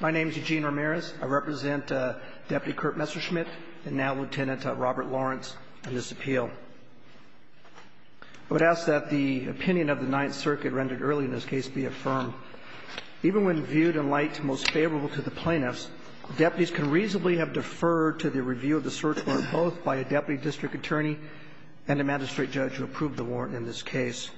My name is Eugene Ramirez. I represent Deputy Kurt Messerschmidt and now Lieutenant Robert Lawrence in this appeal. I would ask that the opinion of the Ninth Circuit rendered early in this case be affirmed. Even when viewed in light most favorable to the plaintiffs, deputies can reasonably have deferred to the review of the search warrant both by a deputy district attorney and a magistrate judge who approved the warrant in this case.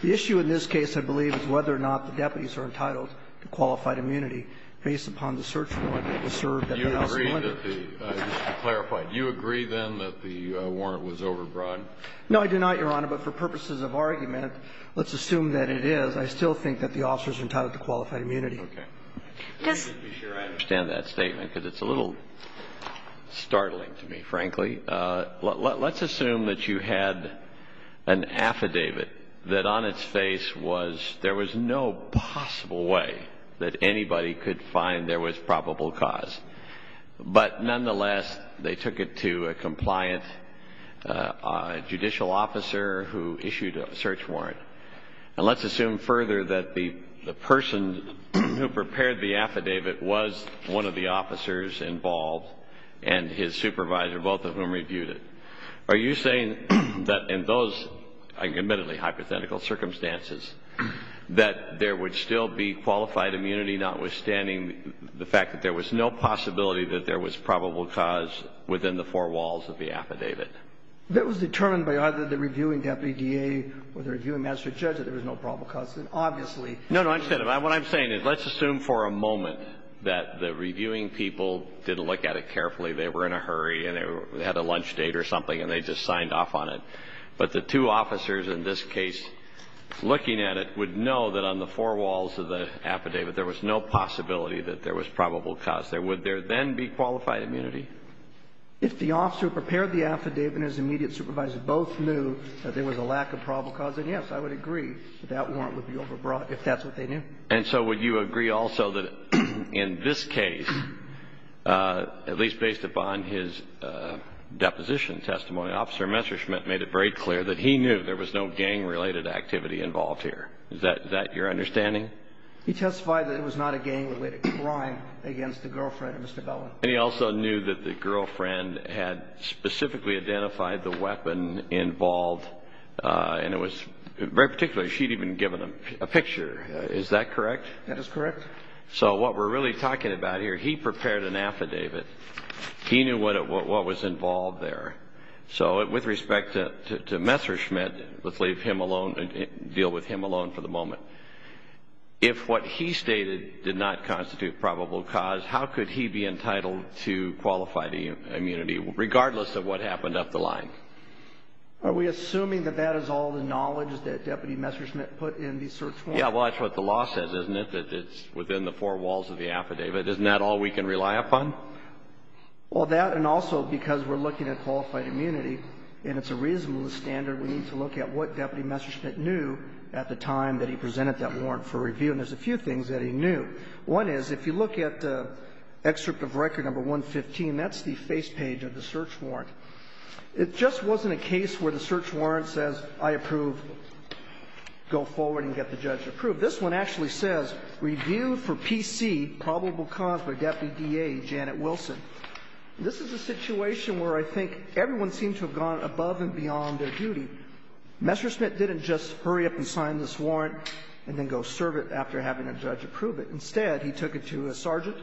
The issue in this case, I believe, is whether or not the deputies are entitled to qualified immunity based upon the search warrant that was served at the house of Menders. Do you agree that the – just to clarify, do you agree, then, that the warrant was overbroad? No, I do not, Your Honor, but for purposes of argument, let's assume that it is. I still think that the officers are entitled to qualified immunity. Okay. Just to be sure I understand that statement, because it's a little startling to me, frankly, let's assume that you had an affidavit that on its face was – there was no possible way that anybody could find there was probable cause. But nonetheless, they took it to a compliant judicial officer who issued a search warrant. And let's assume further that the person who prepared the affidavit was one of the officers involved and his supervisor, both of whom reviewed it. Are you saying that in those admittedly hypothetical circumstances that there would still be qualified immunity, notwithstanding the fact that there was no possibility that there was probable cause within the four walls of the affidavit? That was determined by either the reviewing deputy DA or the reviewing magistrate judge that there was no probable cause. And obviously – No, no, I understand. What I'm saying is let's assume for a moment that the reviewing people didn't look at it carefully. They were in a hurry and they had a lunch date or something and they just signed off on it. But the two officers in this case looking at it would know that on the four walls of the affidavit there was no possibility that there was probable cause. Would there then be qualified immunity? If the officer who prepared the affidavit and his immediate supervisor both knew that there was a lack of probable cause, then yes, I would agree that that warrant would be overbrought if that's what they knew. And so would you agree also that in this case, at least based upon his deposition testimony, Officer Messerschmidt made it very clear that he knew there was no gang-related activity involved here. Is that your understanding? He testified that it was not a gang-related crime against the girlfriend of Mr. Bellin. And he also knew that the girlfriend had specifically identified the weapon involved and it was very particular. She had even given a picture. Is that correct? That is correct. So what we're really talking about here, he prepared an affidavit. He knew what was involved there. So with respect to Messerschmidt, let's leave him alone and deal with him alone for the moment. If what he stated did not constitute probable cause, how could he be entitled to qualified immunity, regardless of what happened up the line? Are we assuming that that is all the knowledge that Deputy Messerschmidt put in the search warrant? Yeah, well, that's what the law says, isn't it, that it's within the four walls of the affidavit. Isn't that all we can rely upon? Well, that and also because we're looking at qualified immunity, and it's a reasonable standard, we need to look at what Deputy Messerschmidt knew at the time that he presented that warrant for review. And there's a few things that he knew. One is, if you look at the excerpt of record number 115, that's the face page of the search warrant. It just wasn't a case where the search warrant says, I approve, go forward and get the judge approved. This one actually says, reviewed for PC, probable cause by Deputy D.A. Janet Wilson. This is a situation where I think everyone seems to have gone above and beyond their duty. Messerschmidt didn't just hurry up and sign this warrant and then go serve it after having a judge approve it. Instead, he took it to a sergeant.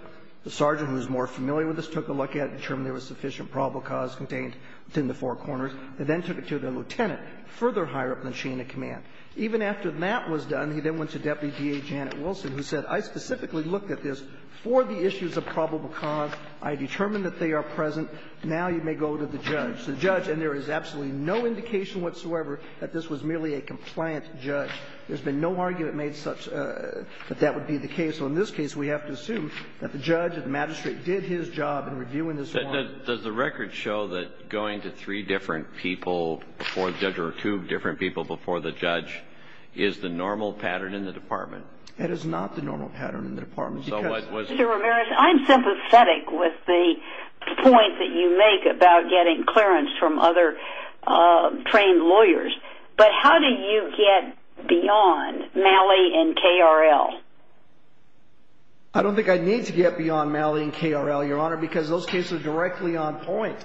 The sergeant, who is more familiar with this, took a look at it, determined there was sufficient probable cause contained within the four corners, and then took it to the lieutenant, further higher up the chain of command. Even after that was done, he then went to Deputy D.A. Janet Wilson, who said, I specifically looked at this for the issues of probable cause. I determined that they are present. Now you may go to the judge. The judge, and there is absolutely no indication whatsoever that this was merely a compliant judge. There's been no argument made such that that would be the case. So in this case, we have to assume that the judge, the magistrate, did his job in reviewing this warrant. Kennedy. Does the record show that going to three different people before the judge or two different people before the judge is the normal pattern in the Department? It is not the normal pattern in the Department. Mr. Ramirez, I'm sympathetic with the point that you make about getting clearance from other trained lawyers. But how do you get beyond Malley and KRL? I don't think I need to get beyond Malley and KRL, Your Honor, because those cases are directly on point.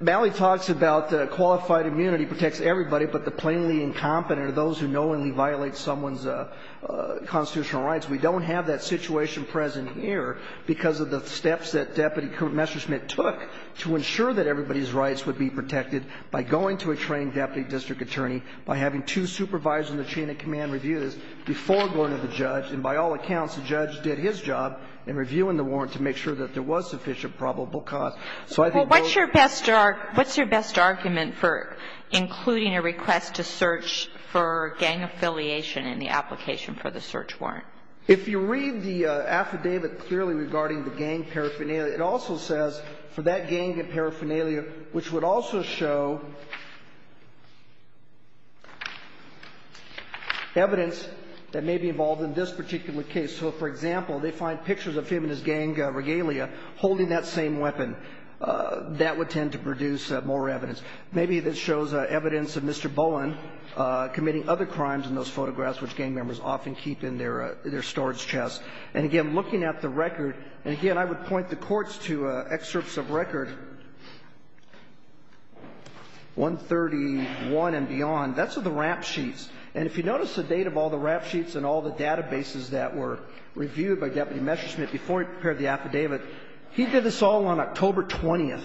Malley talks about qualified immunity protects everybody, but the plainly incompetent are the ones who knowingly violate someone's constitutional rights. We don't have that situation present here because of the steps that Deputy Messerschmidt took to ensure that everybody's rights would be protected by going to a trained deputy district attorney, by having two supervisors in the chain of command review this before going to the judge. And by all accounts, the judge did his job in reviewing the warrant to make sure that So I think both of those. What's your best argument for including a request to search for gang affiliation in the application for the search warrant? If you read the affidavit clearly regarding the gang paraphernalia, it also says for that gang paraphernalia, which would also show evidence that may be involved in this particular case. So, for example, they find pictures of him and his gang regalia holding that same weapon. That would tend to produce more evidence. Maybe this shows evidence of Mr. Bowen committing other crimes in those photographs, which gang members often keep in their storage chests. And again, looking at the record, and again, I would point the courts to excerpts of record 131 and beyond, that's of the rap sheets. And if you notice the date of all the rap sheets and all the databases that were reviewed by Deputy Messerschmidt before he prepared the affidavit, he did this all on October 20th,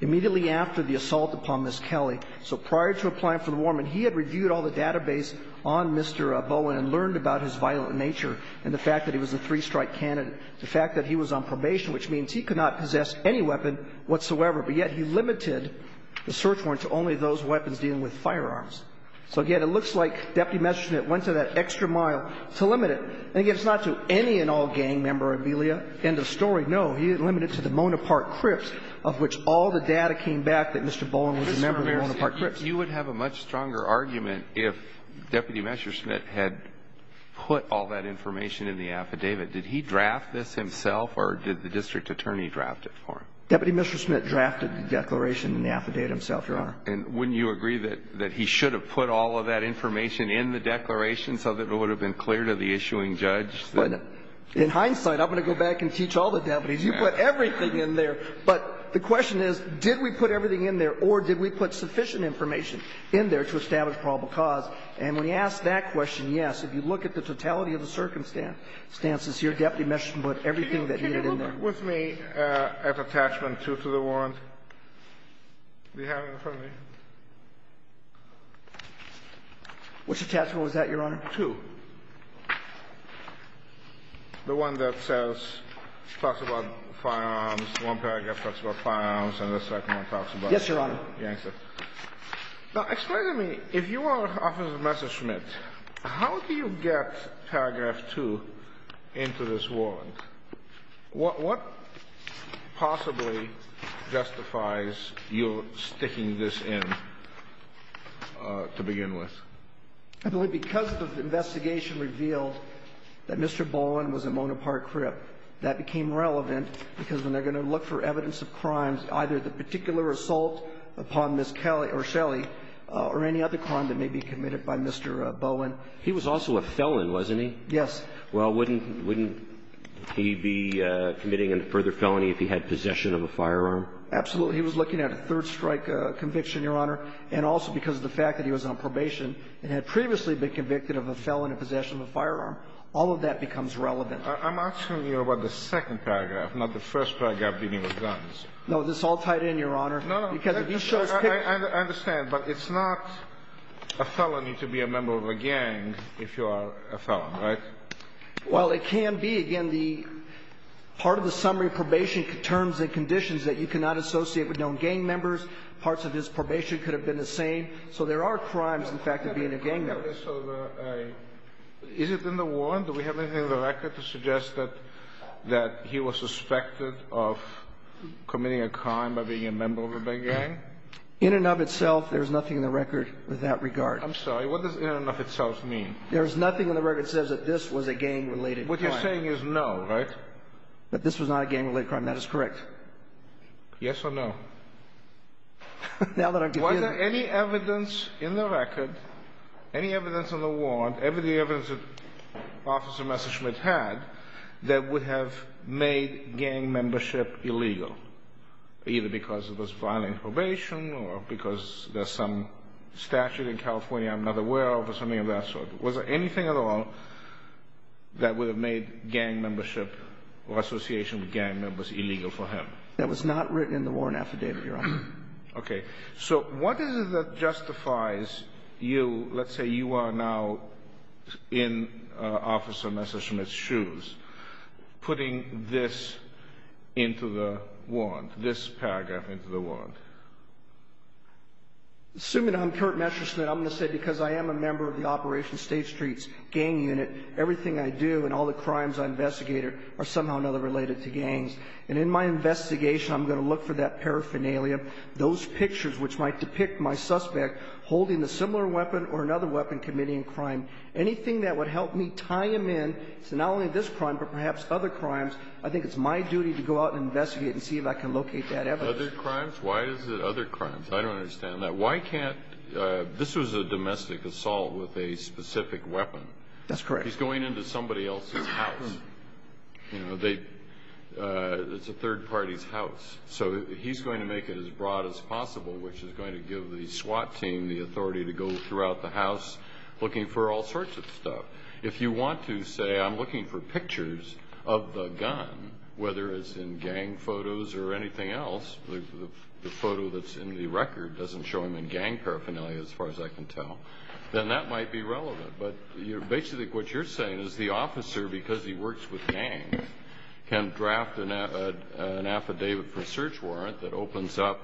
immediately after the assault upon Ms. Kelly. So prior to applying for the warrant, he had reviewed all the database on Mr. Bowen and learned about his violent nature and the fact that he was a three-strike candidate, the fact that he was on probation, which means he could not possess any weapon whatsoever, but yet he limited the search warrant to only those weapons dealing with firearms. So, again, it looks like Deputy Messerschmidt went to that extra mile to limit it. And again, it's not to any and all gang memorabilia. End of story. No, he limited it to the Mona Park Crips, of which all the data came back that Mr. Bowen was a member of the Mona Park Crips. Alito, you would have a much stronger argument if Deputy Messerschmidt had put all that information in the affidavit. Did he draft this himself, or did the district attorney draft it for him? Deputy Messerschmidt drafted the declaration in the affidavit himself, Your Honor. And wouldn't you agree that he should have put all of that information in the declaration so that it would have been clear to the issuing judge? In hindsight, I'm going to go back and teach all the deputies. You put everything in there. But the question is, did we put everything in there, or did we put sufficient information in there to establish probable cause? And when you ask that question, yes. If you look at the totality of the circumstances here, Deputy Messerschmidt put everything that needed in there. Can you look with me at attachment 2 to the warrant that you have in front of me? Which attachment was that, Your Honor? 2. The one that says, talks about firearms. One paragraph talks about firearms, and the second one talks about the gangsters. Yes, Your Honor. Now, explain to me, if you are Officer Messerschmidt, how do you get paragraph 2 into this warrant? What possibly justifies your sticking this in to begin with? I believe because the investigation revealed that Mr. Bowen was at Mona Park Crip, that became relevant, because when they're going to look for evidence of crimes, either the particular assault upon Ms. Shelley or any other crime that may be committed by Mr. Bowen. He was also a felon, wasn't he? Yes. Well, wouldn't he be committing a further felony if he had possession of a firearm? He was looking at a third-strike conviction, Your Honor. And also because of the fact that he was on probation and had previously been convicted of a felon in possession of a firearm. All of that becomes relevant. I'm asking you about the second paragraph, not the first paragraph dealing with guns. No. This all tied in, Your Honor. No, no. I understand. But it's not a felony to be a member of a gang if you are a felon, right? Well, it can be. Again, the part of the summary probation terms and conditions that you cannot associate with known gang members. Parts of his probation could have been the same. So there are crimes, in fact, of being a gang member. Is it in the warrant? Do we have anything in the record to suggest that he was suspected of committing a crime by being a member of a gang? In and of itself, there is nothing in the record with that regard. I'm sorry. What does in and of itself mean? There is nothing in the record that says that this was a gang-related crime. What you're saying is no, right? That this was not a gang-related crime. That is correct. Yes or no? Now that I'm confused. Was there any evidence in the record, any evidence in the warrant, any of the evidence that Officer Messerschmidt had, that would have made gang membership illegal, either because of his violent probation or because there's some statute in California I'm not aware of or something of that sort? Was there anything at all that would have made gang membership or association with gang members illegal for him? That was not written in the warrant affidavit, Your Honor. Okay. So what is it that justifies you, let's say you are now in Officer Messerschmidt's shoes, putting this into the warrant, this paragraph into the warrant? Assuming I'm Kurt Messerschmidt, I'm going to say because I am a member of the Operation State Streets gang unit, everything I do and all the crimes I investigate are somehow or another related to gangs. And in my investigation, I'm going to look for that paraphernalia, those pictures which might depict my suspect holding a similar weapon or another weapon committing a crime. Anything that would help me tie him in to not only this crime but perhaps other crimes, I think it's my duty to go out and investigate and see if I can locate that evidence. Other crimes? Why is it other crimes? I don't understand that. Why can't – this was a domestic assault with a specific weapon. That's correct. He's going into somebody else's house. It's a third party's house. So he's going to make it as broad as possible, which is going to give the SWAT team the authority to go throughout the house looking for all sorts of stuff. If you want to say I'm looking for pictures of the gun, whether it's in gang photos or anything else, the photo that's in the record doesn't show him in gang paraphernalia as far as I can tell, then that might be relevant. But basically what you're saying is the officer, because he works with gangs, can draft an affidavit for a search warrant that opens up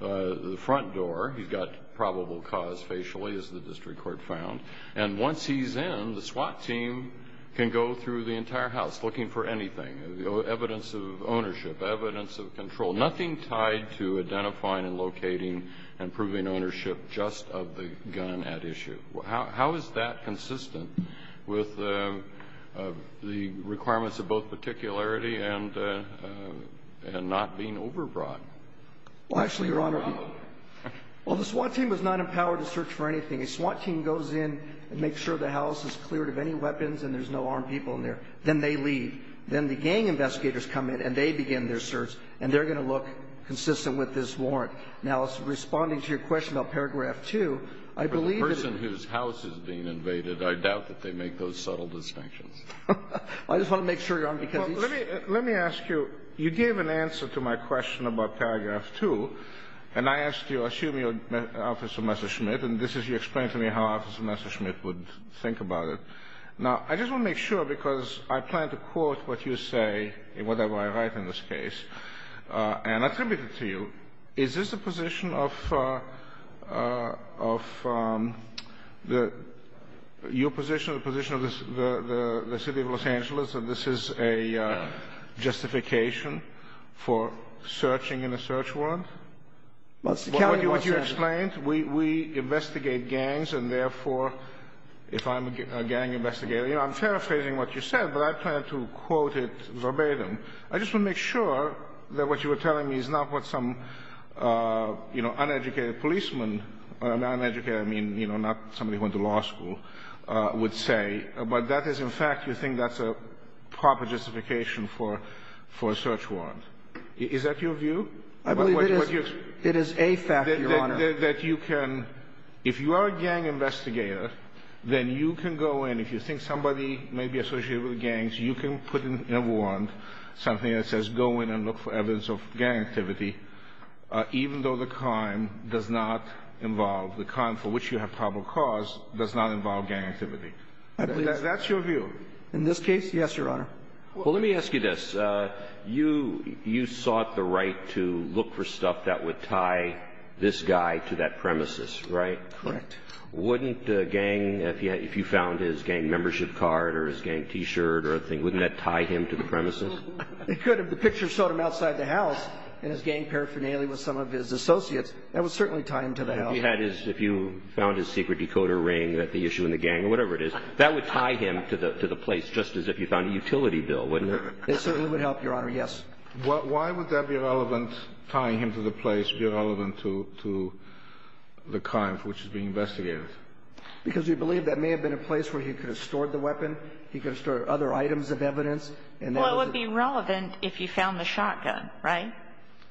the front door. He's got probable cause facially, as the district court found. And once he's in, the SWAT team can go through the entire house looking for anything, evidence of ownership, evidence of control, nothing tied to identifying and locating and proving ownership just of the gun at issue. How is that consistent with the requirements of both particularity and not being overbrought? Well, actually, Your Honor, well, the SWAT team is not empowered to search for anything. A SWAT team goes in and makes sure the house is cleared of any weapons and there's no armed people in there. Then they leave. Then the gang investigators come in and they begin their search, and they're going to look consistent with this warrant. Now, responding to your question about paragraph 2, I believe that anyone whose house is being invaded, I doubt that they make those subtle distinctions. I just want to make sure, Your Honor, because each of you ---- Well, let me ask you, you gave an answer to my question about paragraph 2, and I asked you, assuming you're Officer Messerschmidt, and this is you explaining to me how Officer Messerschmidt would think about it. Now, I just want to make sure, because I plan to quote what you say, whatever I write in this case, and attribute it to you. Is this a position of your position or the position of the city of Los Angeles that this is a justification for searching in a search warrant? What you explained, we investigate gangs, and therefore, if I'm a gang investigator, you know, I'm paraphrasing what you said, but I plan to quote it verbatim. I just want to make sure that what you were telling me is not what some, you know, uneducated policeman, and by uneducated, I mean, you know, not somebody who went to law school, would say. But that is, in fact, you think that's a proper justification for a search warrant. Is that your view? I believe it is. It is a fact, Your Honor. That you can, if you are a gang investigator, then you can go in. If you think somebody may be associated with gangs, you can put in a warrant. Something that says go in and look for evidence of gang activity, even though the crime does not involve, the crime for which you have probable cause does not involve gang activity. That's your view. In this case, yes, Your Honor. Well, let me ask you this. You sought the right to look for stuff that would tie this guy to that premises, right? Correct. Wouldn't a gang, if you found his gang membership card or his gang T-shirt or a thing, wouldn't that tie him to the premises? It could. If the picture showed him outside the house in his gang paraphernalia with some of his associates, that would certainly tie him to the house. If you had his, if you found his secret decoder ring that the issue in the gang or whatever it is, that would tie him to the place, just as if you found a utility bill, wouldn't it? It certainly would help, Your Honor. Yes. Why would that be relevant, tying him to the place, be relevant to the crime for which he's being investigated? Because we believe that may have been a place where he could have stored the items of evidence. Well, it would be relevant if you found the shotgun, right?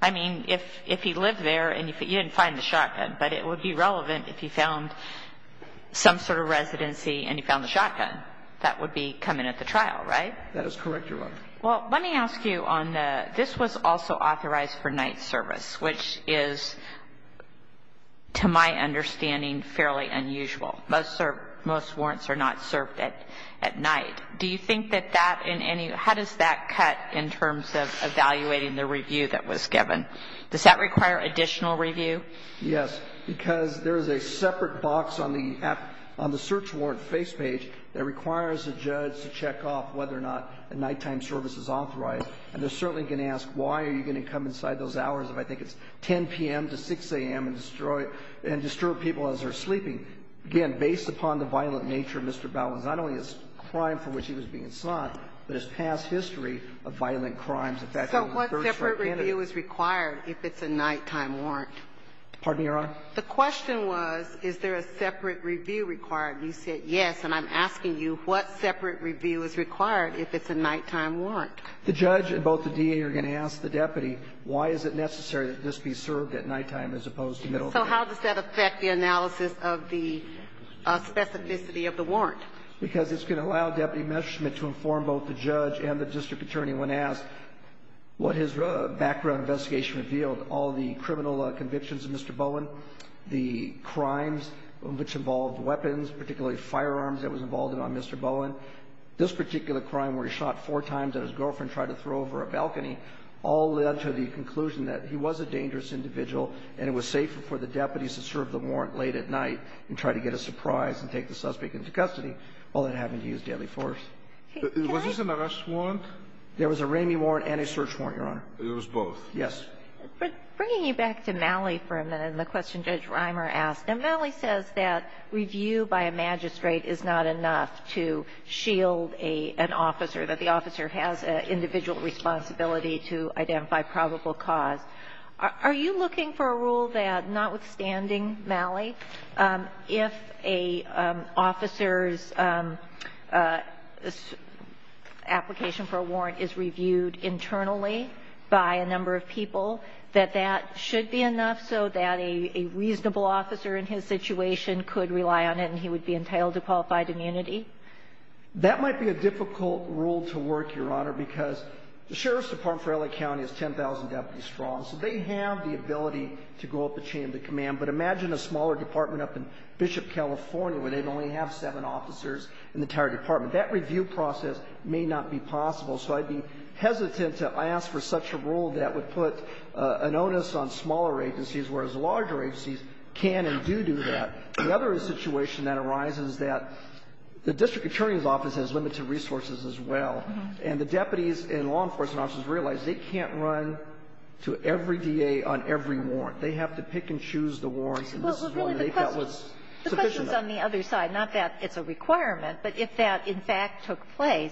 I mean, if he lived there and you didn't find the shotgun, but it would be relevant if you found some sort of residency and you found the shotgun. That would be coming at the trial, right? That is correct, Your Honor. Well, let me ask you on the, this was also authorized for night service, which is, to my understanding, fairly unusual. Most warrants are not served at night. Do you think that that in any, how does that cut in terms of evaluating the review that was given? Does that require additional review? Yes. Because there is a separate box on the search warrant face page that requires the judge to check off whether or not a nighttime service is authorized. And they're certainly going to ask why are you going to come inside those hours if I think it's 10 p.m. to 6 a.m. and destroy, and disturb people as they're sleeping. Again, based upon the violent nature of Mr. Bowen's, not only his crime for which he was being sought, but his past history of violent crimes. So what separate review is required if it's a nighttime warrant? Pardon me, Your Honor? The question was, is there a separate review required? And you said yes. And I'm asking you, what separate review is required if it's a nighttime warrant? The judge and both the DA are going to ask the deputy, why is it necessary that this be served at nighttime as opposed to middle of the night? So how does that affect the analysis of the specificity of the warrant? Because it's going to allow Deputy Messerschmidt to inform both the judge and the district attorney when asked what his background investigation revealed, all the criminal convictions of Mr. Bowen, the crimes which involved weapons, particularly firearms that was involved in on Mr. Bowen. This particular crime where he shot four times and his girlfriend tried to throw over a balcony all led to the conclusion that he was a dangerous individual and it was safer for the deputies to serve the warrant late at night and try to get a surprise and take the suspect into custody, all that happened to use deadly force. Was this an arrest warrant? There was a Ramey warrant and a search warrant, Your Honor. It was both. Yes. But bringing you back to Malley for a minute and the question Judge Reimer asked, Malley says that review by a magistrate is not enough to shield an officer, that the officer has an individual responsibility to identify probable cause. Are you looking for a rule that notwithstanding Malley, if an officer's application for a warrant is reviewed internally by a number of people, that that should be enough so that a reasonable officer in his situation could rely on it and he would be entitled to qualified immunity? That might be a difficult rule to work, Your Honor, because the Sheriff's Department for L.A. County has 10,000 deputies strong, so they have the ability to go up the chain of command, but imagine a smaller department up in Bishop, California, where they'd only have seven officers in the entire department. That review process may not be possible, so I'd be hesitant to ask for such a rule that would put an onus on smaller agencies, whereas larger agencies can and do do that. The other situation that arises is that the district attorney's office has limited resources as well, and the deputies and law enforcement officers realize they can't run to every D.A. on every warrant. They have to pick and choose the warrants, and this is one that they felt was sufficient. The question's on the other side, not that it's a requirement, but if that, in fact, took place,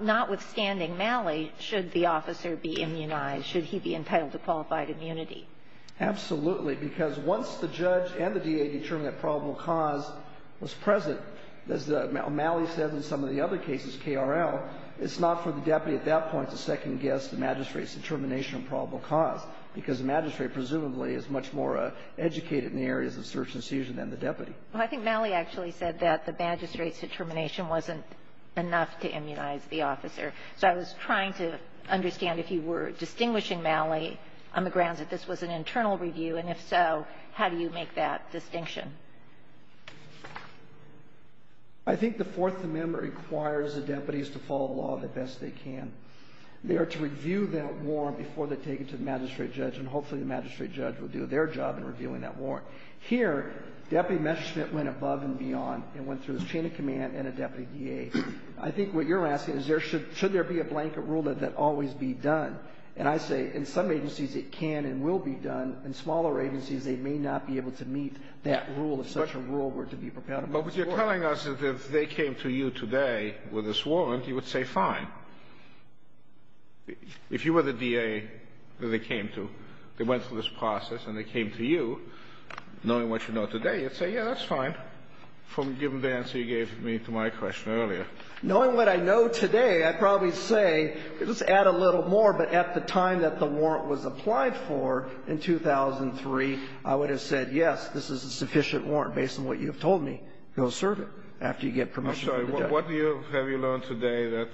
notwithstanding Malley, should the officer be immunized? Should he be entitled to qualified immunity? Absolutely, because once the judge and the D.A. determined that probable cause was present, as Malley said in some of the other cases, KRL, it's not for the deputy at that point to second-guess the magistrate's determination of probable cause, because the magistrate presumably is much more educated in the areas of search and seizure than the deputy. Well, I think Malley actually said that the magistrate's determination wasn't enough to immunize the officer. So I was trying to understand if you were distinguishing Malley on the grounds that this was an internal review, and if so, how do you make that distinction? I think the Fourth Amendment requires the deputies to follow the law the best they can. They are to review that warrant before they take it to the magistrate judge, and hopefully the magistrate judge will do their job in reviewing that warrant. Here, deputy Messerschmitt went above and beyond and went through this chain of command and a deputy D.A. I think what you're asking is should there be a blanket rule that that always be done? And I say in some agencies it can and will be done. In smaller agencies, they may not be able to meet that rule if such a rule were to be prepared. But what you're telling us is if they came to you today with this warrant, you would say fine. If you were the D.A. that they came to, they went through this process and they came to you, knowing what you know today, you'd say, yeah, that's fine, given the answer you gave me to my question earlier. Knowing what I know today, I'd probably say, let's add a little more, but at the time that the warrant was applied for in 2003, I would have said, yes, this is a sufficient warrant based on what you have told me. Go serve it after you get permission from the judge. I'm sorry. What do you have you learned today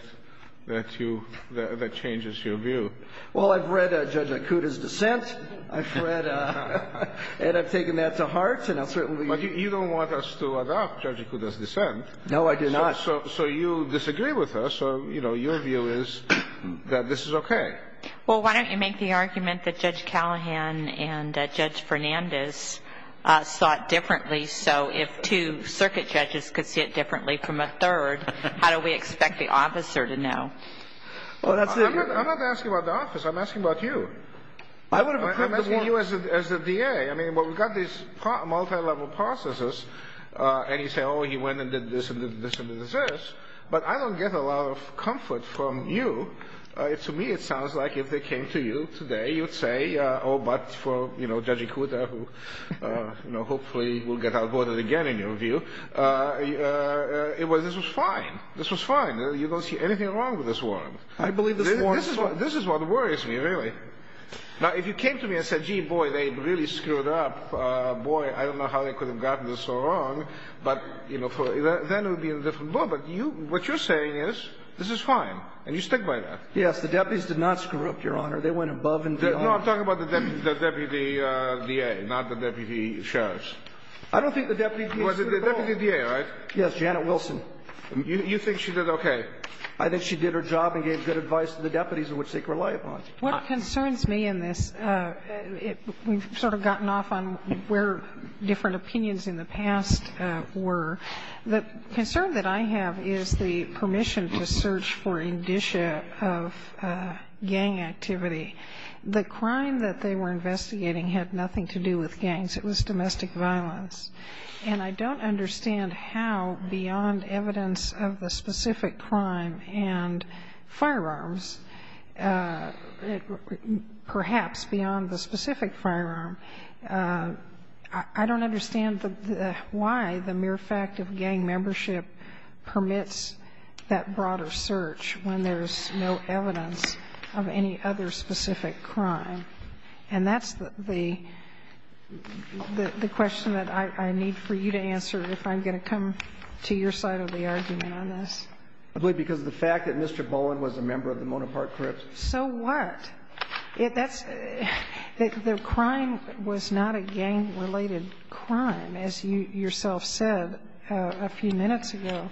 that you – that changes your view? Well, I've read Judge Akuta's dissent. I've read – and I've taken that to heart, and I'll certainly – But you don't want us to adopt Judge Akuta's dissent. No, I do not. So you disagree with us. So, you know, your view is that this is okay. Well, why don't you make the argument that Judge Callahan and Judge Fernandez saw it differently, so if two circuit judges could see it differently from a third, how do we expect the officer to know? I'm not asking about the office. I'm asking about you. I would have approved the warrant. I'm asking you as the DA. I mean, we've got these multi-level processes, and you say, oh, he went and did this and did this and did this, but I don't get a lot of comfort from you. To me, it sounds like if they came to you today, you'd say, oh, but for Judge Akuta, who hopefully will get outvoted again in your view, this was fine. This was fine. You don't see anything wrong with this warrant. I believe this warrant – This is what worries me, really. Now, if you came to me and said, gee, boy, they really screwed up. Boy, I don't know how they could have gotten this so wrong. But, you know, then it would be in a different ball. But you – what you're saying is this is fine, and you stick by that. Yes. The deputies did not screw up, Your Honor. They went above and beyond. No, I'm talking about the deputy DA, not the deputy sheriff. I don't think the deputy DA screwed up at all. Well, the deputy DA, right? Yes, Janet Wilson. You think she did okay? I think she did her job and gave good advice to the deputies in which they could rely upon. What concerns me in this, we've sort of gotten off on where different opinions in the past were. The concern that I have is the permission to search for indicia of gang activity. The crime that they were investigating had nothing to do with gangs. It was domestic violence. And I don't understand how, beyond evidence of the specific crime and firearms, perhaps beyond the specific firearm, I don't understand why the mere fact of gang membership permits that broader search when there's no evidence of any other specific crime. And that's the question that I need for you to answer if I'm going to come to your side of the argument on this. I believe because of the fact that Mr. Bowen was a member of the Monopart Crips. So what? That's the crime was not a gang-related crime, as you yourself said a few minutes ago.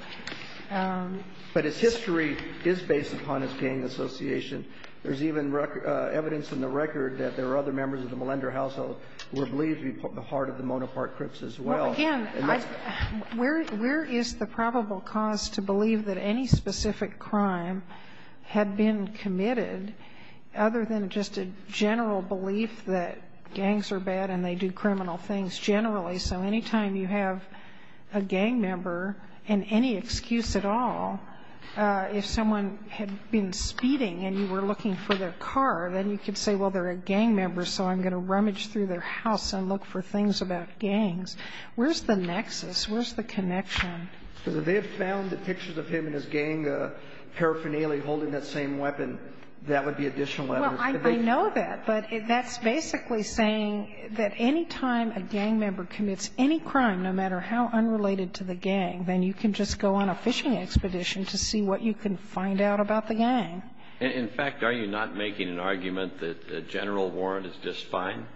But its history is based upon its gang association. There's even evidence in the record that there were other members of the Melender household who were believed to be part of the Monopart Crips as well. Well, again, where is the probable cause to believe that any specific crime had been committed other than just a general belief that gangs are bad and they do criminal things generally? So any time you have a gang member and any excuse at all, if someone had been speeding and you were looking for their car, then you could say, well, they're a gang member, so I'm going to rummage through their house and look for things about gangs. Where's the nexus? Where's the connection? Because if they found the pictures of him and his gang paraphernalia holding that same weapon, that would be additional evidence. Well, I know that, but that's basically saying that any time a gang member commits any crime, no matter how unrelated to the gang, then you can just go on a fishing expedition to see what you can find out about the gang. In fact, are you not making an argument that a general warrant is just fine?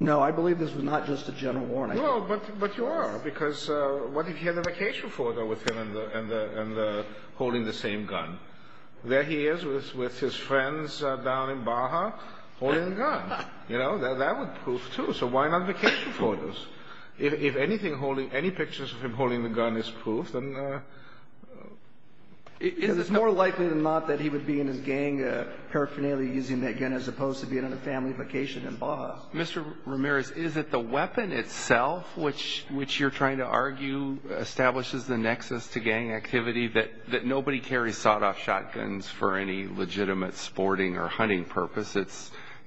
No. I believe this was not just a general warrant. Well, but you are, because what if he had a vacation photo with him and holding the same gun? There he is with his friends down in Baja holding a gun. That would prove, too. So why not vacation photos? If any pictures of him holding the gun is proof, then... Because it's more likely than not that he would be in his gang paraphernalia using that gun as opposed to being on a family vacation in Baja. Mr. Ramirez, is it the weapon itself, which you're trying to argue establishes the nexus to gang activity, that nobody carries sawed-off shotguns for any legitimate sporting or hunting purpose?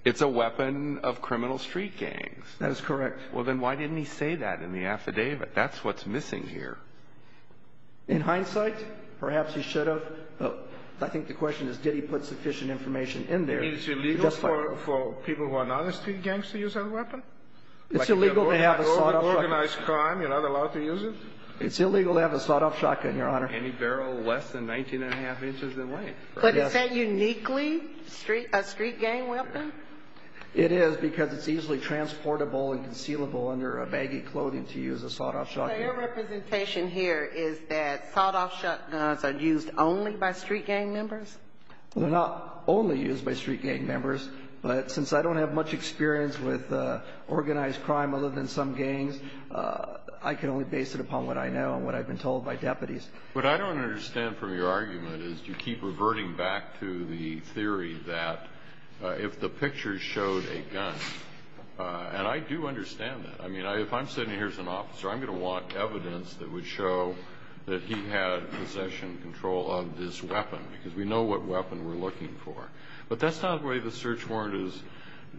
It's a weapon of criminal street gangs. That is correct. Well, then why didn't he say that in the affidavit? That's what's missing here. In hindsight, perhaps he should have. I think the question is did he put sufficient information in there. You mean it's illegal for people who are not a street gang to use that weapon? It's illegal to have a sawed-off shotgun. You're not allowed to use it? It's illegal to have a sawed-off shotgun, Your Honor. Any barrel less than 19 1⁄2 inches away. But is that uniquely a street gang weapon? It is because it's easily transportable and concealable under a baggy clothing to use a sawed-off shotgun. So your representation here is that sawed-off shotguns are used only by street gang members? They're not only used by street gang members. But since I don't have much experience with organized crime other than some gangs, I can only base it upon what I know and what I've been told by deputies. What I don't understand from your argument is you keep reverting back to the theory that if the picture showed a gun, and I do understand that. I mean, if I'm sitting here as an officer, I'm going to want evidence that would show that he had possession and control of this weapon because we know what weapon we're looking for. But that's not the way the search warrant is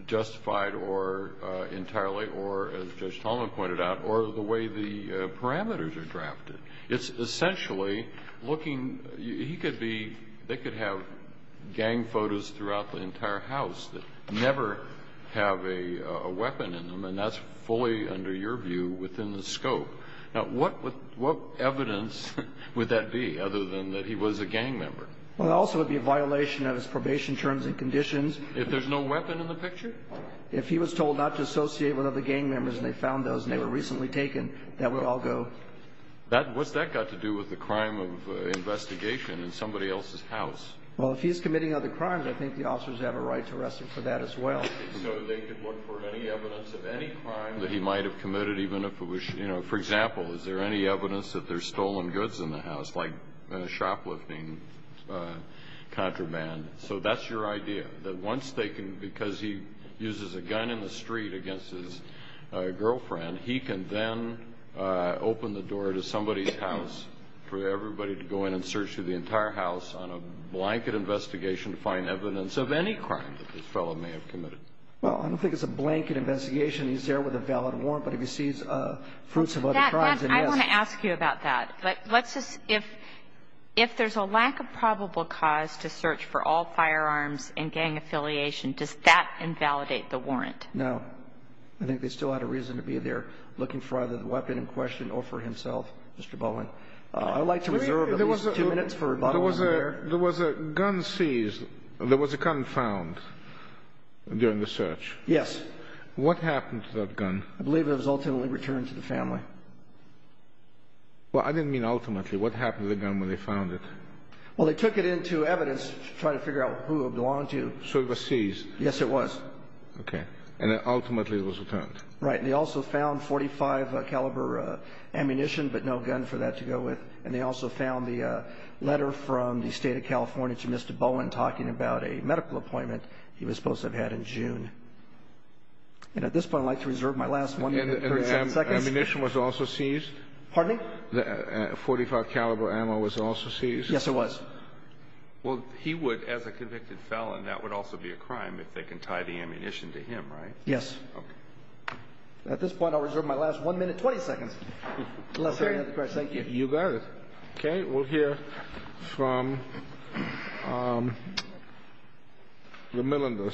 justified entirely or, as Judge Tolman pointed out, or the way the parameters are drafted. It's essentially looking. They could have gang photos throughout the entire house that never have a weapon in them, and that's fully, under your view, within the scope. Now, what evidence would that be other than that he was a gang member? Well, it also would be a violation of his probation terms and conditions. If there's no weapon in the picture? If he was told not to associate with other gang members and they found those and they were recently taken, that would all go. What's that got to do with the crime of investigation in somebody else's house? Well, if he's committing other crimes, I think the officers have a right to arrest him for that as well. So they could look for any evidence of any crime that he might have committed, even if it was, you know. For example, is there any evidence that there's stolen goods in the house, like shoplifting, contraband? So that's your idea, that once they can, because he uses a gun in the street against his girlfriend, he can then open the door to somebody's house for everybody to go in and search through the entire house on a blanket investigation to find evidence of any crime that this fellow may have committed. Well, I don't think it's a blanket investigation. He's there with a valid warrant, but if he sees fruits of other crimes, then yes. I want to ask you about that. But let's just, if there's a lack of probable cause to search for all firearms and gang affiliation, does that invalidate the warrant? No. I think they still had a reason to be there looking for either the weapon in question or for himself, Mr. Bowen. I'd like to reserve at least two minutes for rebuttal on that. There was a gun seized. There was a gun found during the search. Yes. What happened to that gun? I believe it was ultimately returned to the family. Well, I didn't mean ultimately. What happened to the gun when they found it? Well, they took it into evidence to try to figure out who it belonged to. So it was seized? Yes, it was. Okay. And then ultimately it was returned. Right. And they also found .45 caliber ammunition, but no gun for that to go with. And they also found the letter from the State of California to Mr. Bowen talking about a medical appointment he was supposed to have had in June. And at this point, I'd like to reserve my last one minute. Ammunition was also seized? Pardon me? .45 caliber ammo was also seized? Yes, it was. Well, he would, as a convicted felon, that would also be a crime if they can tie the ammunition to him, right? Yes. Okay. At this point, I'll reserve my last one minute. Twenty seconds. Thank you. You got it. Okay. We'll hear from the Millenders.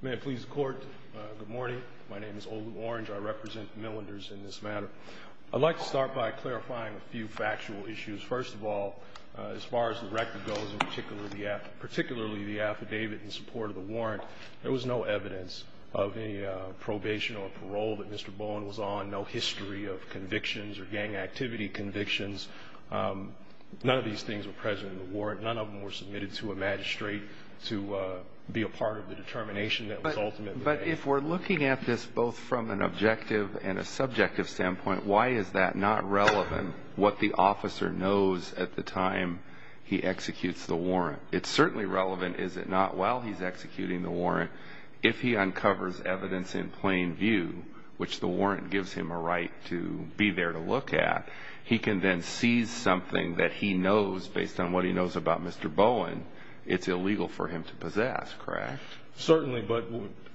May it please the Court. Good morning. My name is Olu Orange. I represent the Millenders in this matter. I'd like to start by clarifying a few factual issues. First of all, as far as the record goes, particularly the affidavit in support of the warrant, there was no evidence of any probation or parole that Mr. Bowen was on, no history of convictions or gang activity convictions. None of these things were present in the warrant. None of them were submitted to a magistrate to be a part of the determination that was ultimately made. But if we're looking at this both from an objective and a subjective standpoint, why is that not relevant, what the officer knows at the time he executes the warrant? It's certainly relevant, is it not, while he's executing the warrant, if he uncovers evidence in plain view, which the warrant gives him a right to be there to look at, he can then seize something that he knows, based on what he knows about Mr. Bowen, it's illegal for him to possess, correct? Certainly. But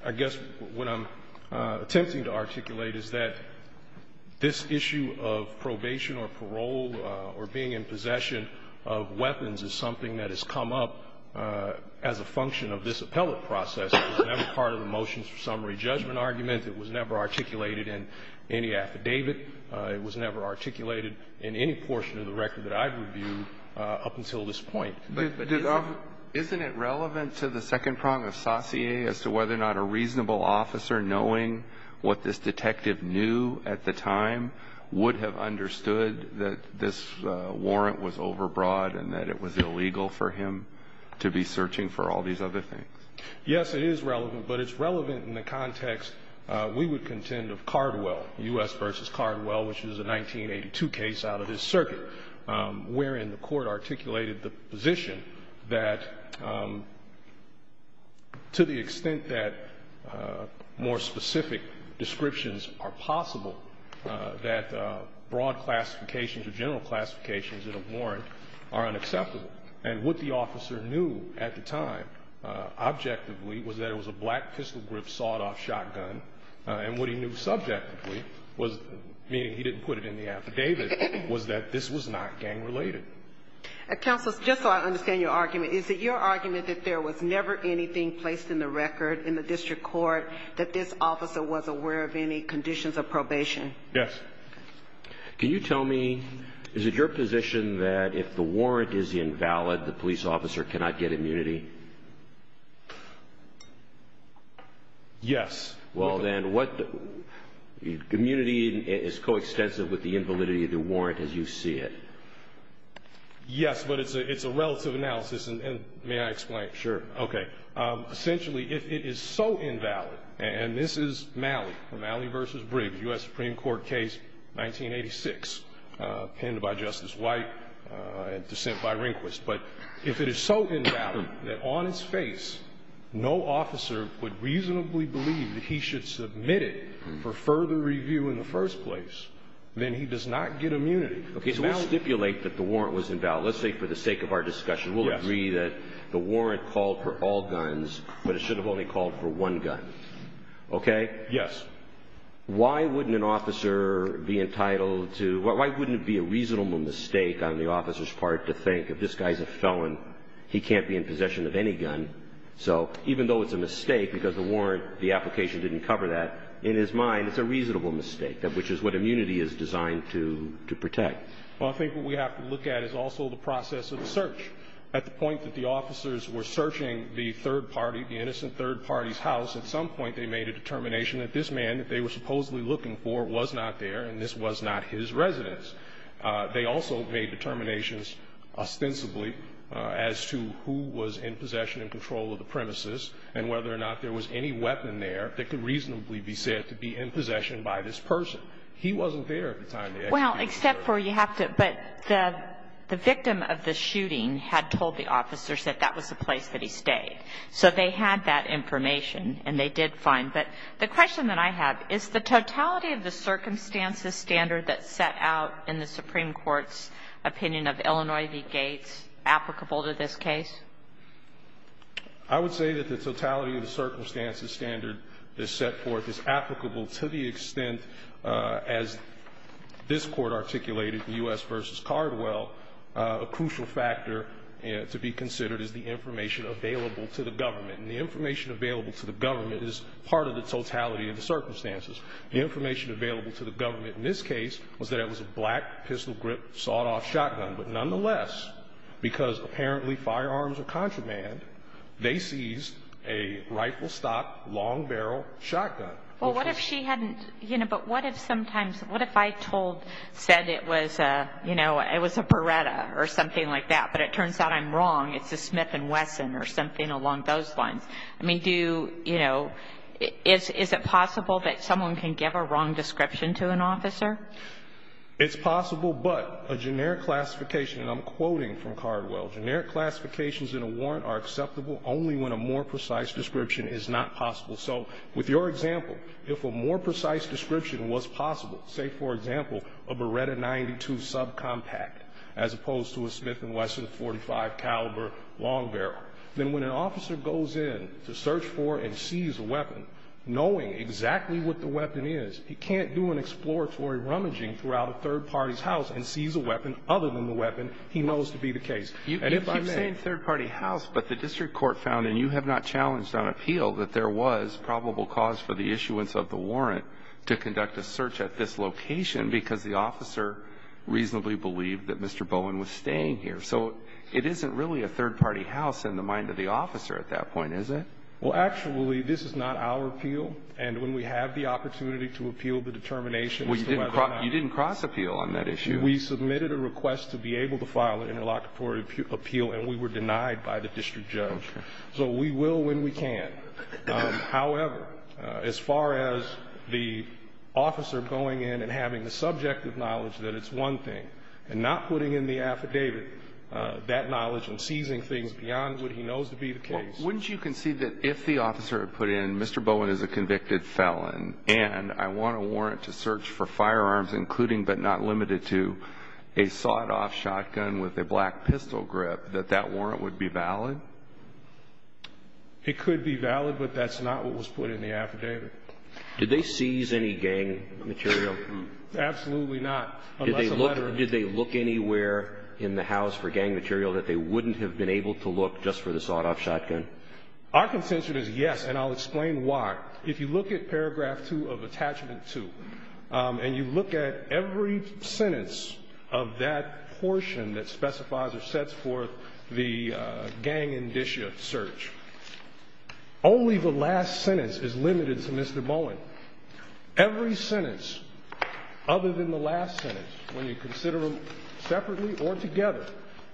I guess what I'm attempting to articulate is that this issue of probation or parole or being in possession of weapons is something that has come up as a function of this appellate process. It was never part of the motions for summary judgment argument. It was never articulated in any affidavit. It was never articulated in any portion of the record that I've reviewed up until this point. But isn't it relevant to the second prong of sautier as to whether or not a reasonable officer knowing what this detective knew at the time would have understood that this warrant was overbroad and that it was illegal for him to be searching for all these other things? Yes, it is relevant, but it's relevant in the context we would contend of Cardwell, U.S. v. Cardwell, which was a 1982 case out of his circuit, wherein the court articulated the position that to the extent that more specific descriptions are possible, that broad classifications or general classifications in a warrant are unacceptable. And what the officer knew at the time objectively was that it was a black pistol grip sawed-off shotgun, and what he knew subjectively, meaning he didn't put it in the affidavit, was that this was not gang-related. Counsel, just so I understand your argument, is it your argument that there was never anything placed in the record, in the district court, that this officer was aware of any conditions of probation? Yes. Can you tell me, is it your position that if the warrant is invalid, the police officer cannot get immunity? Yes. Well, then, what, immunity is coextensive with the invalidity of the warrant as you see it? Yes, but it's a relative analysis, and may I explain? Sure. Okay. Essentially, if it is so invalid, and this is Malley, from Malley v. Briggs, U.S. Supreme Court case, 1986, penned by Justice White and dissent by Rehnquist, but if it is so invalid that on its face, no officer would reasonably believe that he should submit it for further review in the first place, then he does not get immunity. Okay, so we stipulate that the warrant was invalid. Let's say for the sake of our discussion, we'll agree that the warrant called for all guns, but it should have only called for one gun. Okay? Yes. Why wouldn't an officer be entitled to, why wouldn't it be a reasonable mistake on the officer's part to think, if this guy's a felon, he can't be in possession of any gun? So, even though it's a mistake because the warrant, the application didn't cover that, in his mind, it's a reasonable mistake, which is what immunity is designed to protect. Well, I think what we have to look at is also the process of the search. At the point that the officers were searching the third party, the innocent third party's house, at some point they made a determination that this man that they were supposedly looking for was not there and this was not his residence. They also made determinations ostensibly as to who was in possession and control of the premises and whether or not there was any weapon there that could reasonably be said to be in possession by this person. He wasn't there at the time. Well, except for you have to, but the victim of the shooting had told the officers that that was the place that he stayed. So they had that information and they did find. But the question that I have, is the totality of the circumstances standard that's set out in the Supreme Court's opinion of Illinois v. Gates applicable to this case? I would say that the totality of the circumstances standard that's set forth is applicable to the extent, as this Court articulated in U.S. v. Cardwell, a crucial factor to be considered is the information available to the government. And the information available to the government is part of the totality of the circumstances. The information available to the government in this case was that it was a black pistol grip sawed-off shotgun. But nonetheless, because apparently firearms are contraband, they seized a rifle stock, long barrel shotgun. Well, what if she hadn't, you know, but what if sometimes, what if I told, said it was, you know, it was a Beretta or something like that, but it turns out I'm wrong. It's a Smith & Wesson or something along those lines. I mean, do, you know, is it possible that someone can give a wrong description to an officer? It's possible, but a generic classification, and I'm quoting from Cardwell, generic classifications in a warrant are acceptable only when a more precise description is not possible. So with your example, if a more precise description was possible, say, for example, a Beretta 92 subcompact as opposed to a Smith & Wesson .45 caliber long barrel, then when an officer goes in to search for and seize a weapon, knowing exactly what the weapon is, he can't do an exploratory rummaging throughout a third party's house and seize a weapon other than the weapon he knows to be the case. And if I may. You keep saying third party house, but the district court found, and you have not challenged on appeal, that there was probable cause for the issuance of the warrant to conduct a search at this location because the officer reasonably believed that Mr. Bowen was staying here. So it isn't really a third party house in the mind of the officer at that point, is it? Well, actually, this is not our appeal. And when we have the opportunity to appeal the determination as to whether or not. Well, you didn't cross-appeal on that issue. We submitted a request to be able to file an interlocutory appeal, and we were denied by the district judge. So we will when we can. However, as far as the officer going in and having the subjective knowledge that it's one thing and not putting in the affidavit that knowledge and seizing things beyond what he knows to be the case. Wouldn't you concede that if the officer had put in Mr. Bowen is a convicted felon and I want a warrant to search for firearms, including but not limited to a sawed-off shotgun with a black pistol grip, that that warrant would be valid? It could be valid, but that's not what was put in the affidavit. Did they seize any gang material? Absolutely not. Did they look anywhere in the house for gang material that they wouldn't have been able to look just for the sawed-off shotgun? Our consensus is yes, and I'll explain why. If you look at paragraph two of attachment two, and you look at every sentence of that portion that specifies or sets forth the gang indicia search, only the last sentence is limited to Mr. Bowen. Every sentence other than the last sentence, when you consider them separately or together,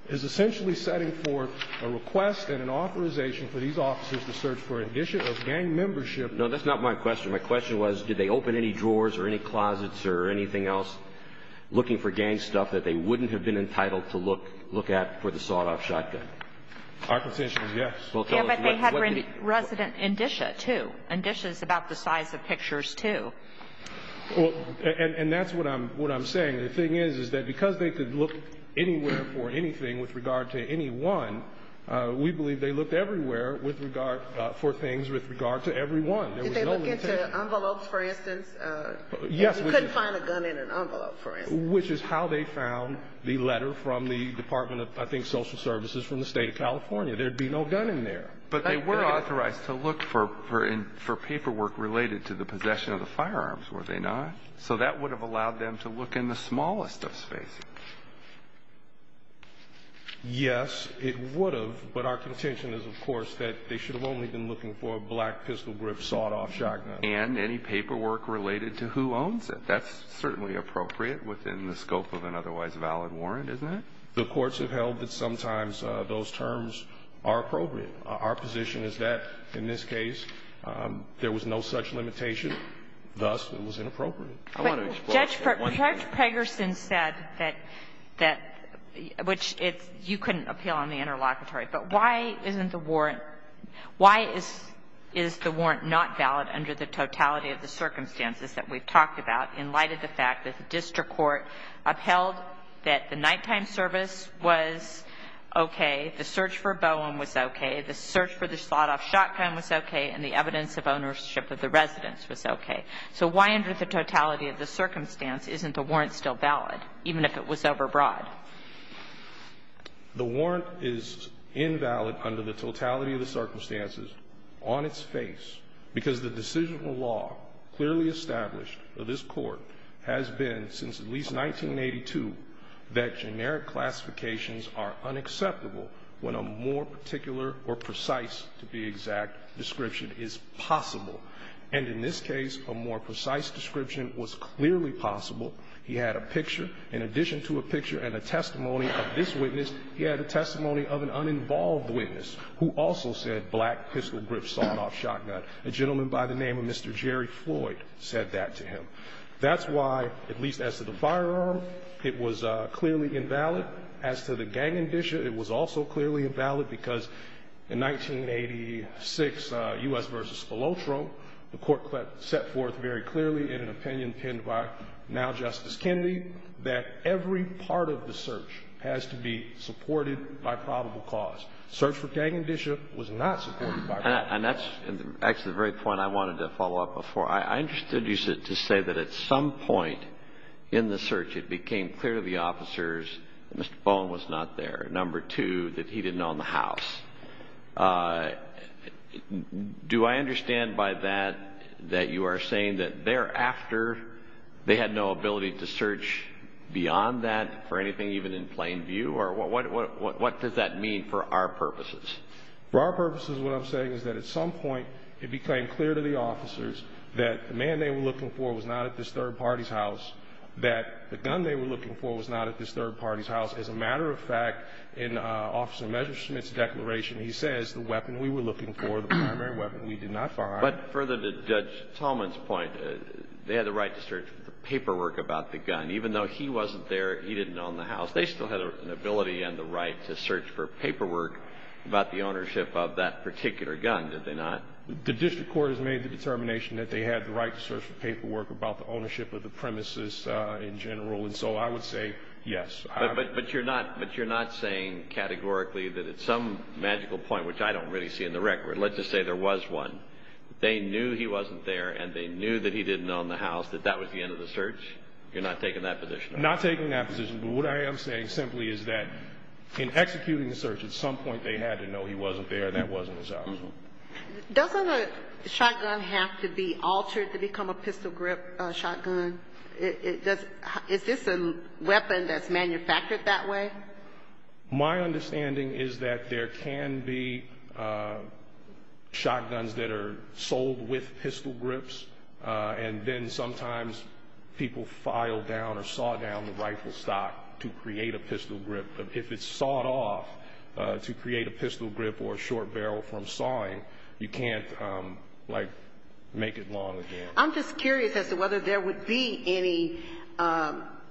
is essentially setting forth a request and an authorization for these officers to search for indicia of gang membership. No, that's not my question. My question was did they open any drawers or any closets or anything else looking for gang stuff that they wouldn't have been entitled to look at for the sawed-off shotgun? Our position is yes. Yeah, but they had resident indicia, too. Indicia is about the size of pictures, too. And that's what I'm saying. The thing is is that because they could look anywhere for anything with regard to any one, we believe they looked everywhere for things with regard to every one. Did they look into envelopes, for instance? Yes. You couldn't find a gun in an envelope, for instance. Which is how they found the letter from the Department of, I think, Social Services from the State of California. There would be no gun in there. But they were authorized to look for paperwork related to the possession of the firearms, were they not? So that would have allowed them to look in the smallest of spaces. Yes, it would have, but our contention is, of course, that they should have only been looking for a black pistol grip sawed-off shotgun. And any paperwork related to who owns it. That's certainly appropriate within the scope of an otherwise valid warrant, isn't it? The courts have held that sometimes those terms are appropriate. Our position is that, in this case, there was no such limitation. Thus, it was inappropriate. I want to explore that. Judge Pregerson said that, which you couldn't appeal on the interlocutory, but why isn't the warrant, why is the warrant not valid under the totality of the circumstances that we've talked about in light of the fact that the district court upheld that the nighttime service was okay, the search for Bowen was okay, the search for the sawed-off shotgun was okay, and the evidence of ownership of the residence was okay? So why under the totality of the circumstance isn't the warrant still valid, even if it was overbroad? The warrant is invalid under the totality of the circumstances on its face, because the decisional law clearly established of this Court has been, since at least 1982, that generic classifications are unacceptable when a more particular or precise, to be exact, description is possible. And in this case, a more precise description was clearly possible. He had a picture. In addition to a picture and a testimony of this witness, he had a testimony of an uninvolved witness who also said black pistol grip sawed-off shotgun. A gentleman by the name of Mr. Jerry Floyd said that to him. That's why, at least as to the firearm, it was clearly invalid. As to the gang indicia, it was also clearly invalid because in 1986, U.S. v. Spilotro, the Court set forth very clearly in an opinion penned by now Justice Kennedy that every part of the search has to be supported by probable cause. Search for gang indicia was not supported by probable cause. And that's actually the very point I wanted to follow up before. I understood you to say that at some point in the search it became clear to the officers that Mr. Bowen was not there, number two, that he didn't own the house. Do I understand by that that you are saying that thereafter they had no ability to search beyond that for anything even in plain view? Or what does that mean for our purposes? For our purposes, what I'm saying is that at some point it became clear to the officers that the man they were looking for was not at this third party's house, that the gun they were looking for was not at this third party's house. As a matter of fact, in Officer Messerschmidt's declaration, he says the weapon we were looking for, the primary weapon we did not find. But further to Judge Tallman's point, they had the right to search for paperwork about the gun. Even though he wasn't there, he didn't own the house, they still had an ability and the right to search for paperwork about the ownership of that particular gun, did they not? The district court has made the determination that they had the right to search for paperwork about the ownership of the premises in general, and so I would say yes. But you're not saying categorically that at some magical point, which I don't really see in the record, let's just say there was one, they knew he wasn't there and they knew that he didn't own the house, that that was the end of the search? You're not taking that position? Not taking that position, but what I am saying simply is that in executing the search, at some point they had to know he wasn't there and that wasn't his house. Doesn't a shotgun have to be altered to become a pistol grip shotgun? Is this a weapon that's manufactured that way? My understanding is that there can be shotguns that are sold with pistol grips and then sometimes people file down or saw down the rifle stock to create a pistol grip. If it's sawed off to create a pistol grip or a short barrel from sawing, you can't, like, make it long again. I'm just curious as to whether there would be any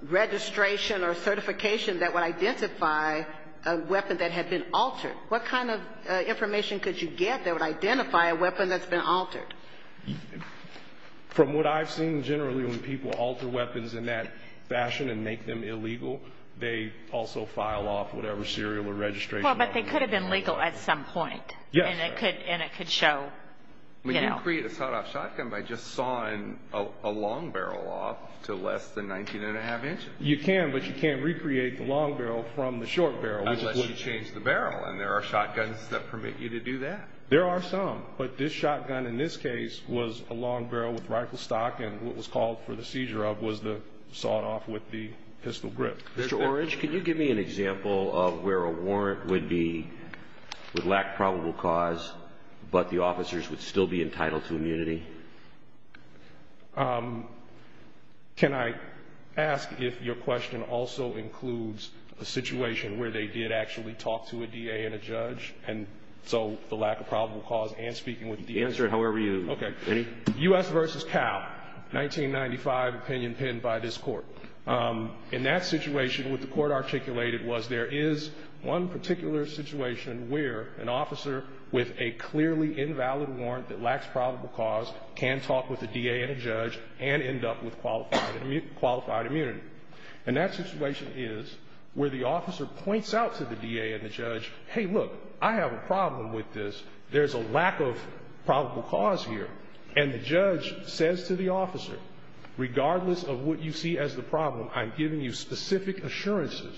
registration or certification that would identify a weapon that had been altered. What kind of information could you get that would identify a weapon that's been altered? From what I've seen generally, when people alter weapons in that fashion and make them illegal, they also file off whatever serial or registration. Well, but they could have been legal at some point. Yes. And it could show, you know. When you create a sawed-off shotgun by just sawing a long barrel off to less than 19 1⁄2 inches. You can, but you can't recreate the long barrel from the short barrel. Unless you change the barrel, and there are shotguns that permit you to do that. There are some, but this shotgun in this case was a long barrel with rifle stock, and what was called for the seizure of was the sawed-off with the pistol grip. Mr. Orridge, can you give me an example of where a warrant would lack probable cause Can I ask if your question also includes a situation where they did actually talk to a D.A. and a judge, and so the lack of probable cause and speaking with the D.A. Answer it however you. Okay. U.S. versus Cal, 1995 opinion penned by this court. In that situation, what the court articulated was there is one particular situation where an officer with a clearly invalid warrant that lacks probable cause can talk with the D.A. and a judge and end up with qualified immunity. And that situation is where the officer points out to the D.A. and the judge, hey, look, I have a problem with this. There's a lack of probable cause here. And the judge says to the officer, regardless of what you see as the problem, I'm giving you specific assurances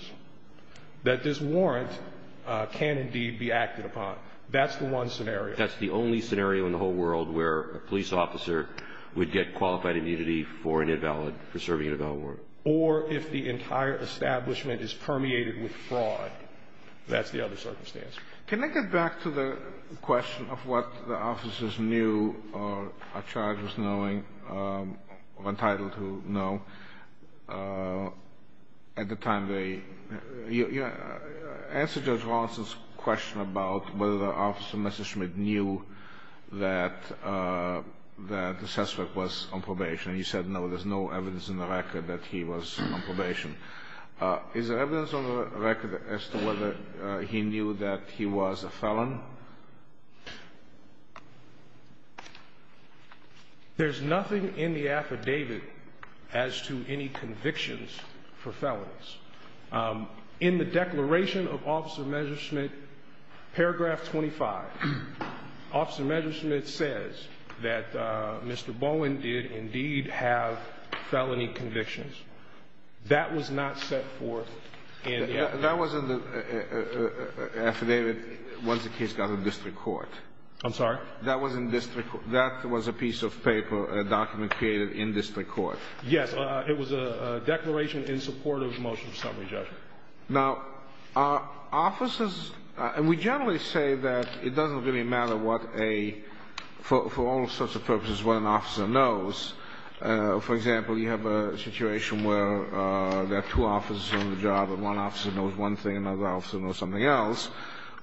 that this warrant can indeed be acted upon. That's the one scenario. That's the only scenario in the whole world where a police officer would get qualified immunity for an invalid, for serving an invalid warrant. Or if the entire establishment is permeated with fraud. That's the other circumstance. Can I get back to the question of what the officers knew or are charged with knowing or entitled to know? At the time they asked Judge Rawlinson's question about whether the officer, Mr. Schmidt, knew that the suspect was on probation. And he said, no, there's no evidence in the record that he was on probation. Is there evidence on the record as to whether he knew that he was a felon? There's nothing in the affidavit as to any convictions for felons. In the declaration of Officer Measure Schmidt, paragraph 25, Officer Measure Schmidt says that Mr. Bowen did indeed have felony convictions. That was not set forth in the affidavit. That was in the affidavit once the case got to district court. I'm sorry? That was in district court. That was a piece of paper, a document created in district court. Yes. It was a declaration in support of the motion of summary judgment. Now, are officers, and we generally say that it doesn't really matter what a, for all sorts of purposes, what an officer knows. For example, you have a situation where there are two officers on the job and one officer knows one thing and another officer knows something else.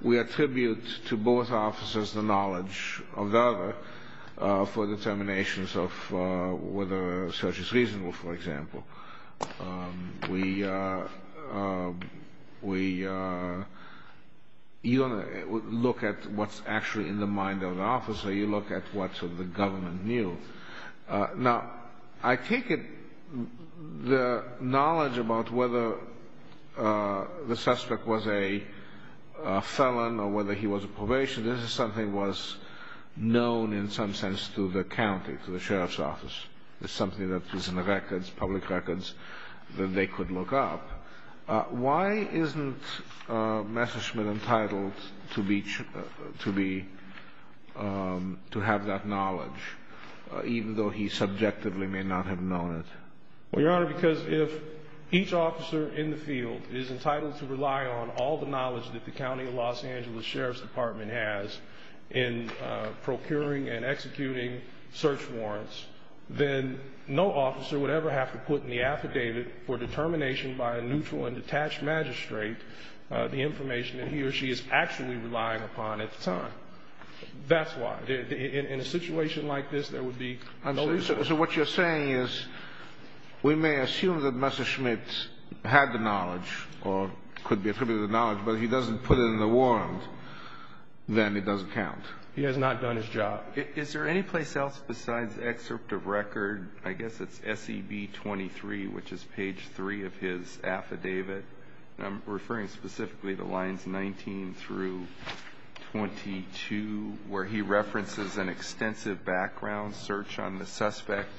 We attribute to both officers the knowledge of the other for determinations of whether a search is reasonable, for example. You don't look at what's actually in the mind of the officer, you look at what the government knew. Now, I take it the knowledge about whether the suspect was a felon or whether he was a probationer, this is something that was known in some sense to the county, to the sheriff's office. It's something that is in the records, public records, that they could look up. Why isn't Messerschmidt entitled to have that knowledge, even though he subjectively may not have known it? Well, Your Honor, because if each officer in the field is entitled to rely on all the knowledge that the county of Los Angeles Sheriff's Department has in procuring and executing search warrants, then no officer would ever have to put in the affidavit for determination by a neutral and detached magistrate the information that he or she is actually relying upon at the time. That's why. In a situation like this, there would be no reason. So what you're saying is we may assume that Messerschmidt had the knowledge or could be attributed the knowledge, but if he doesn't put it in the warrant, then it doesn't count. He has not done his job. Is there any place else besides excerpt of record? I guess it's SEB 23, which is page 3 of his affidavit. I'm referring specifically to lines 19 through 22, where he references an extensive background search on the suspect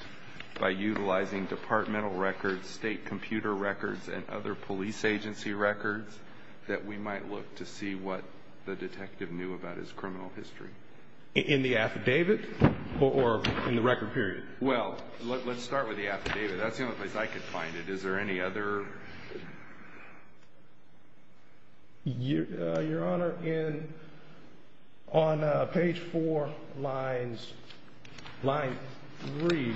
by utilizing departmental records, state computer records, and other police agency records that we might look to see what the detective knew about his criminal history. In the affidavit or in the record period? Well, let's start with the affidavit. That's the only place I could find it. Is there any other? Your Honor, on page 4, line 3,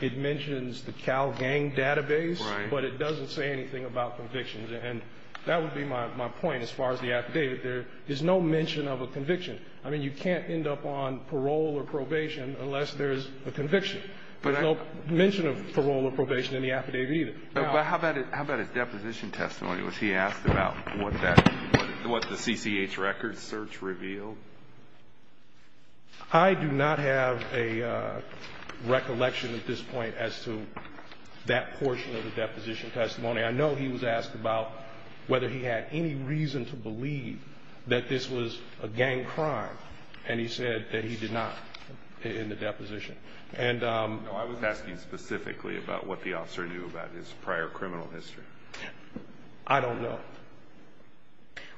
it mentions the Cal Gang database, but it doesn't say anything about convictions. And that would be my point as far as the affidavit. There is no mention of a conviction. I mean, you can't end up on parole or probation unless there's a conviction. There's no mention of parole or probation in the affidavit either. But how about his deposition testimony? Was he asked about what the CCH records search revealed? I do not have a recollection at this point as to that portion of the deposition testimony. I know he was asked about whether he had any reason to believe that this was a gang crime, and he said that he did not in the deposition. No, I was asking specifically about what the officer knew about his prior criminal history. I don't know.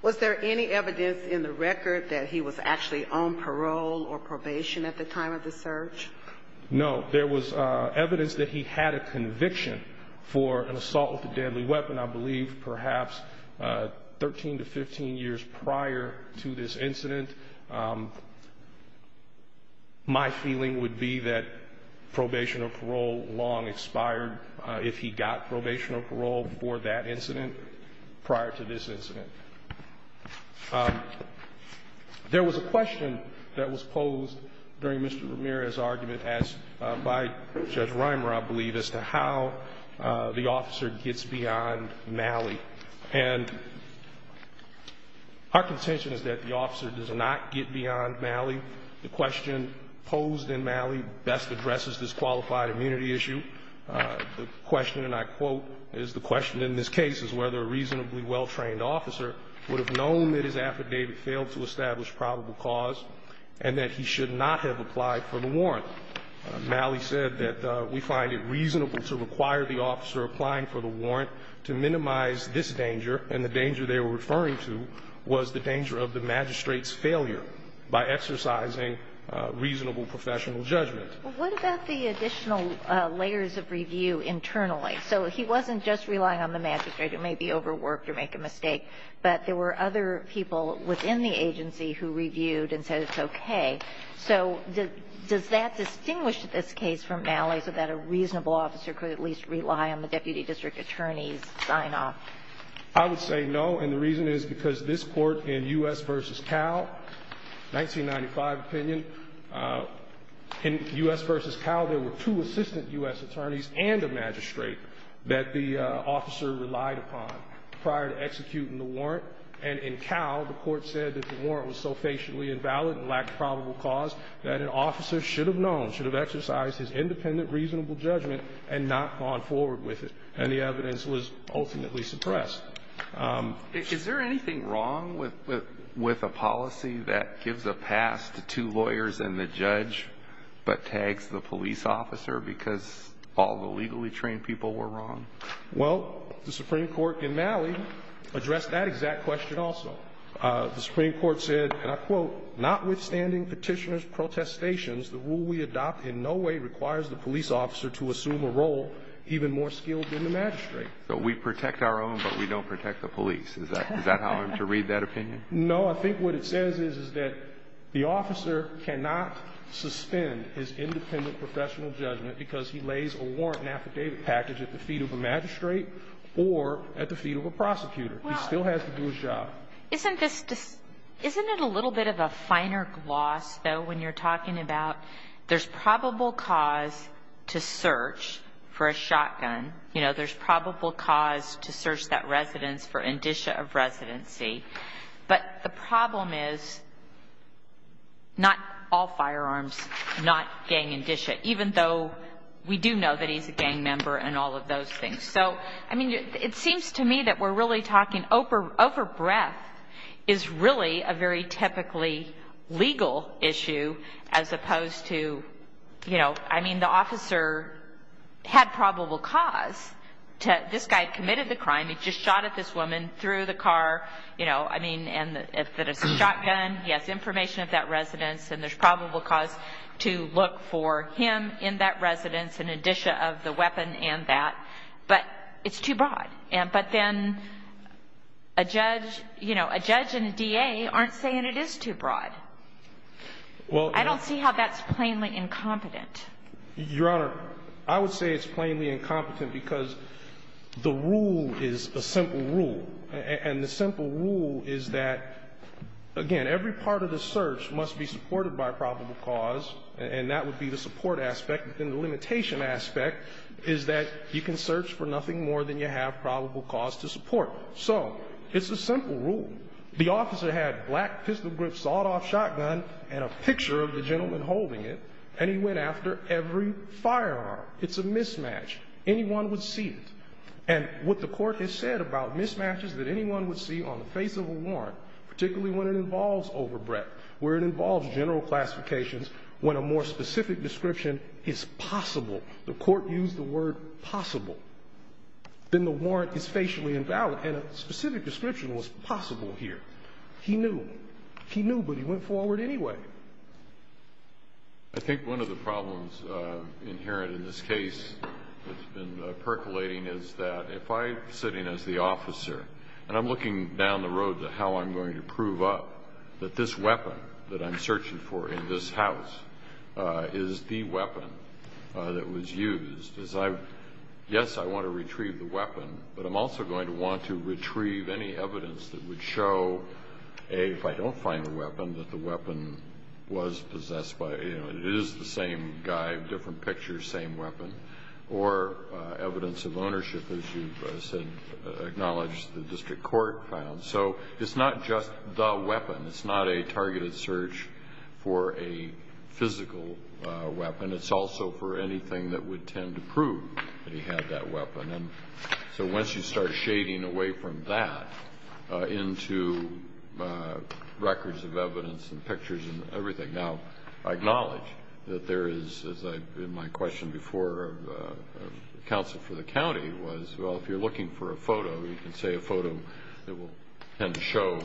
Was there any evidence in the record that he was actually on parole or probation at the time of the search? No. There was evidence that he had a conviction for an assault with a deadly weapon, I believe, perhaps 13 to 15 years prior to this incident. My feeling would be that probation or parole long expired if he got probation or parole for that incident prior to this incident. There was a question that was posed during Mr. Ramirez's argument by Judge Reimer, I believe, as to how the officer gets beyond Malley. And our contention is that the officer does not get beyond Malley. The question posed in Malley best addresses this qualified immunity issue. The question, and I quote, is the question in this case is whether a reasonably well-trained officer would have known that his affidavit failed to establish probable cause and that he should not have applied for the warrant. Malley said that we find it reasonable to require the officer applying for the warrant to minimize this danger, and the danger they were referring to was the danger of the magistrate's failure by exercising reasonable professional judgment. Well, what about the additional layers of review internally? So he wasn't just relying on the magistrate who may be overworked or make a mistake, but there were other people within the agency who reviewed and said it's okay. So does that distinguish this case from Malley, so that a reasonable officer could at least rely on the deputy district attorney's sign-off? I would say no, and the reason is because this court in U.S. v. Cal, 1995 opinion, in U.S. v. Cal, there were two assistant U.S. attorneys and a magistrate that the officer relied upon prior to executing the warrant. And in Cal, the court said that the warrant was so facially invalid and lacked probable cause that an officer should have known, should have exercised his independent reasonable judgment and not gone forward with it. And the evidence was ultimately suppressed. Is there anything wrong with a policy that gives a pass to two lawyers and the judge but tags the police officer because all the legally trained people were wrong? Well, the Supreme Court in Malley addressed that exact question also. The Supreme Court said, and I quote, notwithstanding petitioner's protestations, the rule we adopt in no way requires the police officer to assume a role even more skilled than the magistrate. So we protect our own, but we don't protect the police. Is that how I'm to read that opinion? No. I think what it says is that the officer cannot suspend his independent professional judgment because he lays a warrant and affidavit package at the feet of a magistrate or at the feet of a prosecutor. He still has to do his job. Isn't it a little bit of a finer gloss, though, when you're talking about there's probable cause to search for a shotgun? You know, there's probable cause to search that residence for indicia of residency. But the problem is not all firearms, not gang indicia, even though we do know that he's a gang member and all of those things. So, I mean, it seems to me that we're really talking over breath is really a very typically legal issue as opposed to, you know, I mean, the officer had probable cause to this guy committed the crime. He just shot at this woman through the car. You know, I mean, and if it is a shotgun, he has information of that residence, and there's probable cause to look for him in that residence, an indicia of the weapon and that. But it's too broad. But then a judge, you know, a judge and a DA aren't saying it is too broad. I don't see how that's plainly incompetent. Your Honor, I would say it's plainly incompetent because the rule is a simple rule. And the simple rule is that, again, every part of the search must be supported by probable cause, and that would be the support aspect. And the limitation aspect is that you can search for nothing more than you have probable cause to support. So it's a simple rule. The officer had black pistol grip sawed-off shotgun and a picture of the gentleman holding it, and he went after every firearm. It's a mismatch. Anyone would see it. And what the court has said about mismatches that anyone would see on the face of a warrant, particularly when it involves overbreath, where it involves general classifications, when a more specific description is possible, the court used the word possible, then the warrant is facially invalid. And a specific description was possible here. He knew. He knew, but he went forward anyway. I think one of the problems inherent in this case that's been percolating is that if I'm sitting as the officer and I'm looking down the road to how I'm going to prove up that this weapon that I'm searching for in this house is the weapon that was used, is I, yes, I want to retrieve the weapon, but I'm also going to want to retrieve any evidence that would show, A, if I don't find the weapon, that the weapon was possessed by, you know, it is the same guy, different picture, same weapon, or evidence of ownership, as you've said, acknowledged the district court found. So it's not just the weapon. It's not a targeted search for a physical weapon. It's also for anything that would tend to prove that he had that weapon. And so once you start shading away from that into records of evidence and pictures and everything, now I acknowledge that there is, as in my question before counsel for the county, was, well, if you're looking for a photo, you can say a photo that will tend to show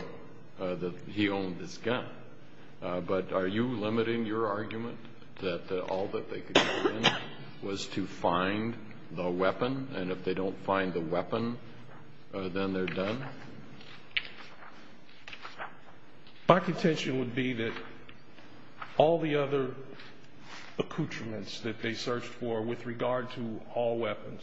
that he owned this gun. But are you limiting your argument that all that they could do was to find the weapon, and if they don't find the weapon, then they're done? My contention would be that all the other accoutrements that they searched for with regard to all weapons,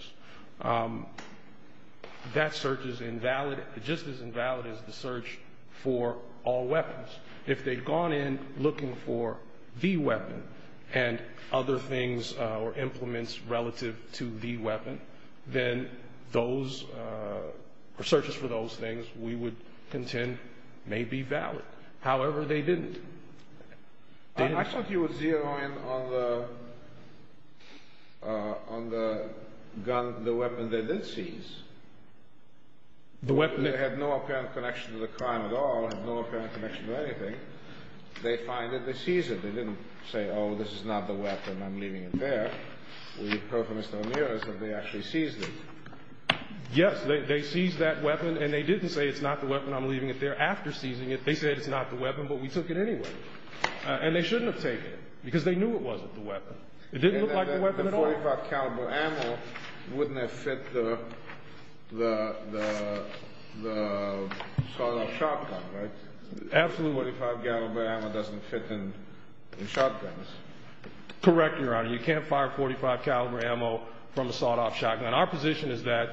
that search is invalid, just as invalid as the search for all weapons. If they'd gone in looking for the weapon and other things or implements relative to the weapon, then those searches for those things we would contend may be valid. However, they didn't. I thought you were zeroing in on the gun, the weapon they did seize. The weapon that had no apparent connection to the crime at all, had no apparent connection to anything. They find it, they seize it. They didn't say, oh, this is not the weapon, I'm leaving it there. We approached Mr. Ramirez and they actually seized it. Yes, they seized that weapon, and they didn't say it's not the weapon, I'm leaving it there. After seizing it, they said it's not the weapon, but we took it anyway. And they shouldn't have taken it, because they knew it wasn't the weapon. It didn't look like the weapon at all. The .45 caliber ammo wouldn't have fit the sawed-off shotgun, right? Absolutely. .45 caliber ammo doesn't fit in shotguns. Correct, Your Honor. You can't fire .45 caliber ammo from a sawed-off shotgun. Our position is that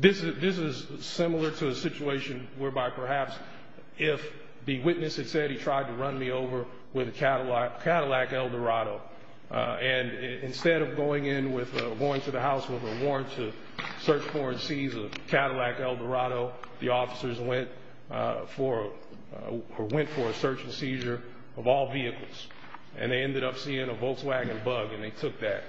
this is similar to a situation whereby perhaps if the witness had said he tried to run me over with a Cadillac Eldorado, and instead of going to the house with a warrant to search for and seize a Cadillac Eldorado, the officers went for a search and seizure of all vehicles, and they ended up seeing a Volkswagen Bug, and they took that.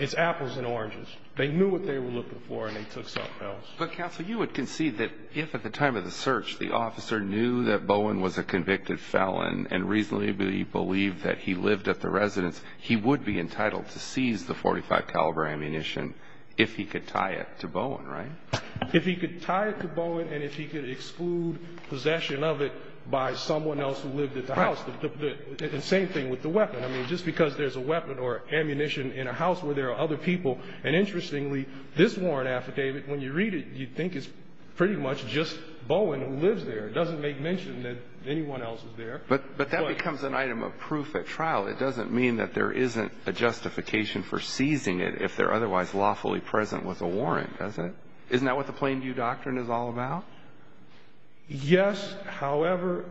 It's apples and oranges. They knew what they were looking for, and they took something else. But, Counsel, you would concede that if at the time of the search the officer knew that Bowen was a convicted felon and reasonably believed that he lived at the residence, he would be entitled to seize the .45 caliber ammunition if he could tie it to Bowen, right? If he could tie it to Bowen and if he could exclude possession of it by someone else who lived at the house. The same thing with the weapon. I mean, just because there's a weapon or ammunition in a house where there are other people, and interestingly, this warrant affidavit, when you read it, you'd think it's pretty much just Bowen who lives there. It doesn't make mention that anyone else is there. But that becomes an item of proof at trial. It doesn't mean that there isn't a justification for seizing it if they're otherwise lawfully present with a warrant, does it? Isn't that what the Plain View Doctrine is all about? Yes, however,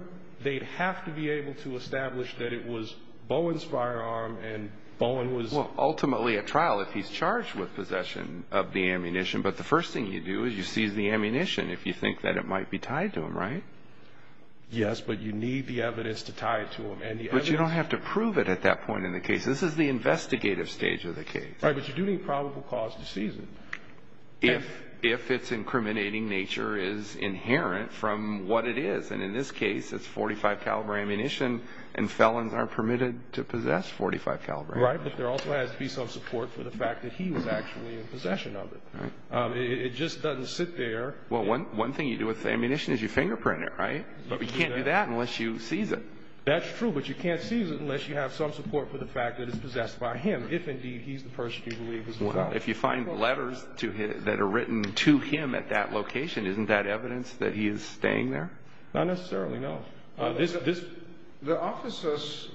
they'd have to be able to establish that it was Bowen's firearm and Bowen was- Well, ultimately at trial, if he's charged with possession of the ammunition, but the first thing you do is you seize the ammunition if you think that it might be tied to him, right? Yes, but you need the evidence to tie it to him. But you don't have to prove it at that point in the case. This is the investigative stage of the case. Right, but you do need probable cause to seize it. If its incriminating nature is inherent from what it is. And in this case, it's .45 caliber ammunition and felons aren't permitted to possess .45 caliber ammunition. Right, but there also has to be some support for the fact that he was actually in possession of it. It just doesn't sit there. Well, one thing you do with ammunition is you fingerprint it, right? But you can't do that unless you seize it. That's true, but you can't seize it unless you have some support for the fact that it's possessed by him, if indeed he's the person you believe is the felon. If you find letters that are written to him at that location, isn't that evidence that he is staying there? Not necessarily, no. The officers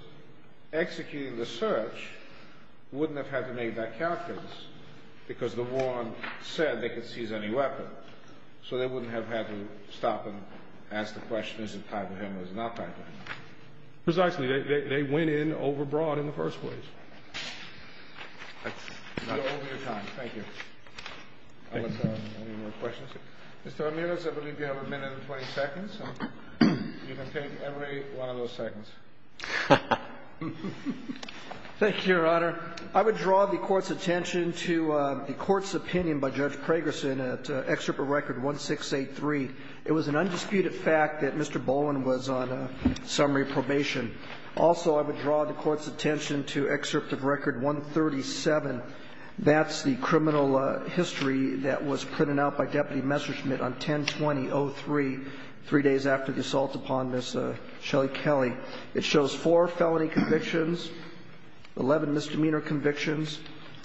executing the search wouldn't have had to make that character because the warrant said they could seize any weapon. So they wouldn't have had to stop and ask the question, is it tied to him or is it not tied to him? Precisely, they went in over broad in the first place. That's all for your time. Thank you. Any more questions? Mr. Ramirez, I believe you have a minute and 20 seconds. You can take every one of those seconds. Thank you, Your Honor. I would draw the Court's attention to the Court's opinion by Judge Pragerson at Excerpt of Record 1683. It was an undisputed fact that Mr. Bowen was on summary probation. Also, I would draw the Court's attention to Excerpt of Record 137. That's the criminal history that was printed out by Deputy Messerschmitt on 10-20-03, three days after the assault upon Ms. Shelley Kelly. It shows four felony convictions, 11 misdemeanor convictions,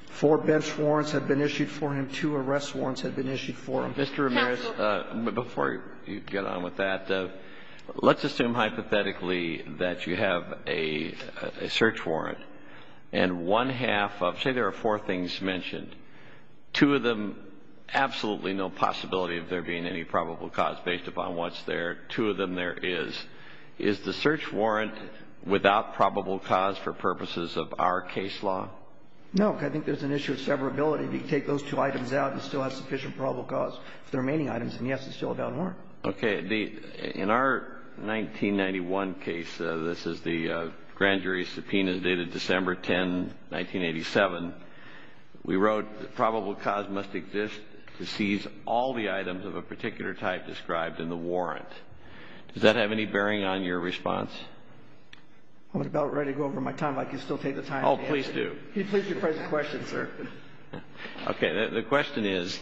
four bench warrants had been issued for him, two arrest warrants had been issued for him. Mr. Ramirez, before you get on with that, let's assume hypothetically that you have a search warrant and one half of, say, there are four things mentioned. Two of them, absolutely no possibility of there being any probable cause based upon what's there. Two of them there is. Is the search warrant without probable cause for purposes of our case law? No. I think there's an issue of severability. If you take those two items out, you still have sufficient probable cause for the remaining items. And, yes, it's still a valid warrant. Okay. In our 1991 case, this is the grand jury subpoena dated December 10, 1987, we wrote that probable cause must exist to seize all the items of a particular type described in the warrant. Does that have any bearing on your response? I'm about ready to go over my time. If I could still take the time to answer. Oh, please do. Can you please rephrase the question, sir? Okay. The question is,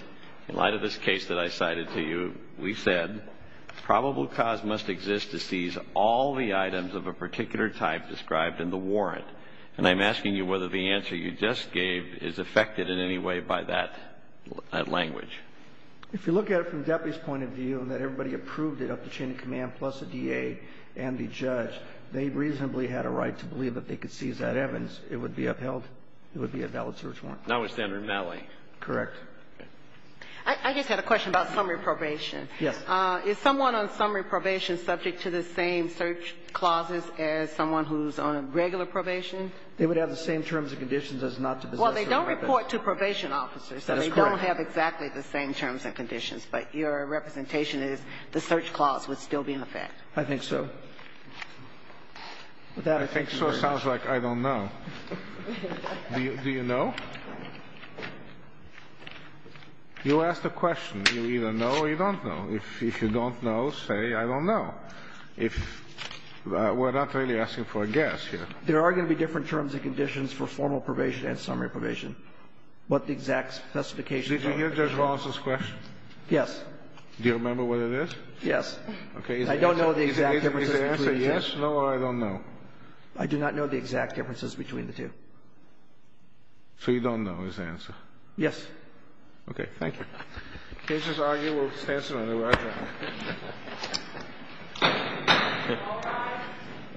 in light of this case that I cited to you, we said probable cause must exist to seize all the items of a particular type described in the warrant. And I'm asking you whether the answer you just gave is affected in any way by that language. If you look at it from the deputy's point of view, that everybody approved it up the chain of command plus a DA and the judge, they reasonably had a right to believe that they could seize that evidence. It would be upheld. It would be a valid search warrant. That was standard in LA. Correct. I just had a question about summary probation. Yes. Is someone on summary probation subject to the same search clauses as someone who's on a regular probation? They would have the same terms and conditions as not to possess a weapon. Well, they don't report to probation officers. That's correct. So they don't have exactly the same terms and conditions. But your representation is the search clause would still be in effect. I think so. I think so sounds like I don't know. Do you know? You asked a question. You either know or you don't know. If you don't know, say I don't know. If we're not really asking for a guess here. There are going to be different terms and conditions for formal probation and summary probation. But the exact specifications are not the same. Did you hear Judge Rawson's question? Yes. Do you remember what it is? Yes. Okay. I don't know the exact differences. Is the answer yes, no, or I don't know? I do not know the exact differences between the two. So you don't know is the answer? Yes. Okay. Thank you. The case is argued. We'll stand some other way. Roger. All rise.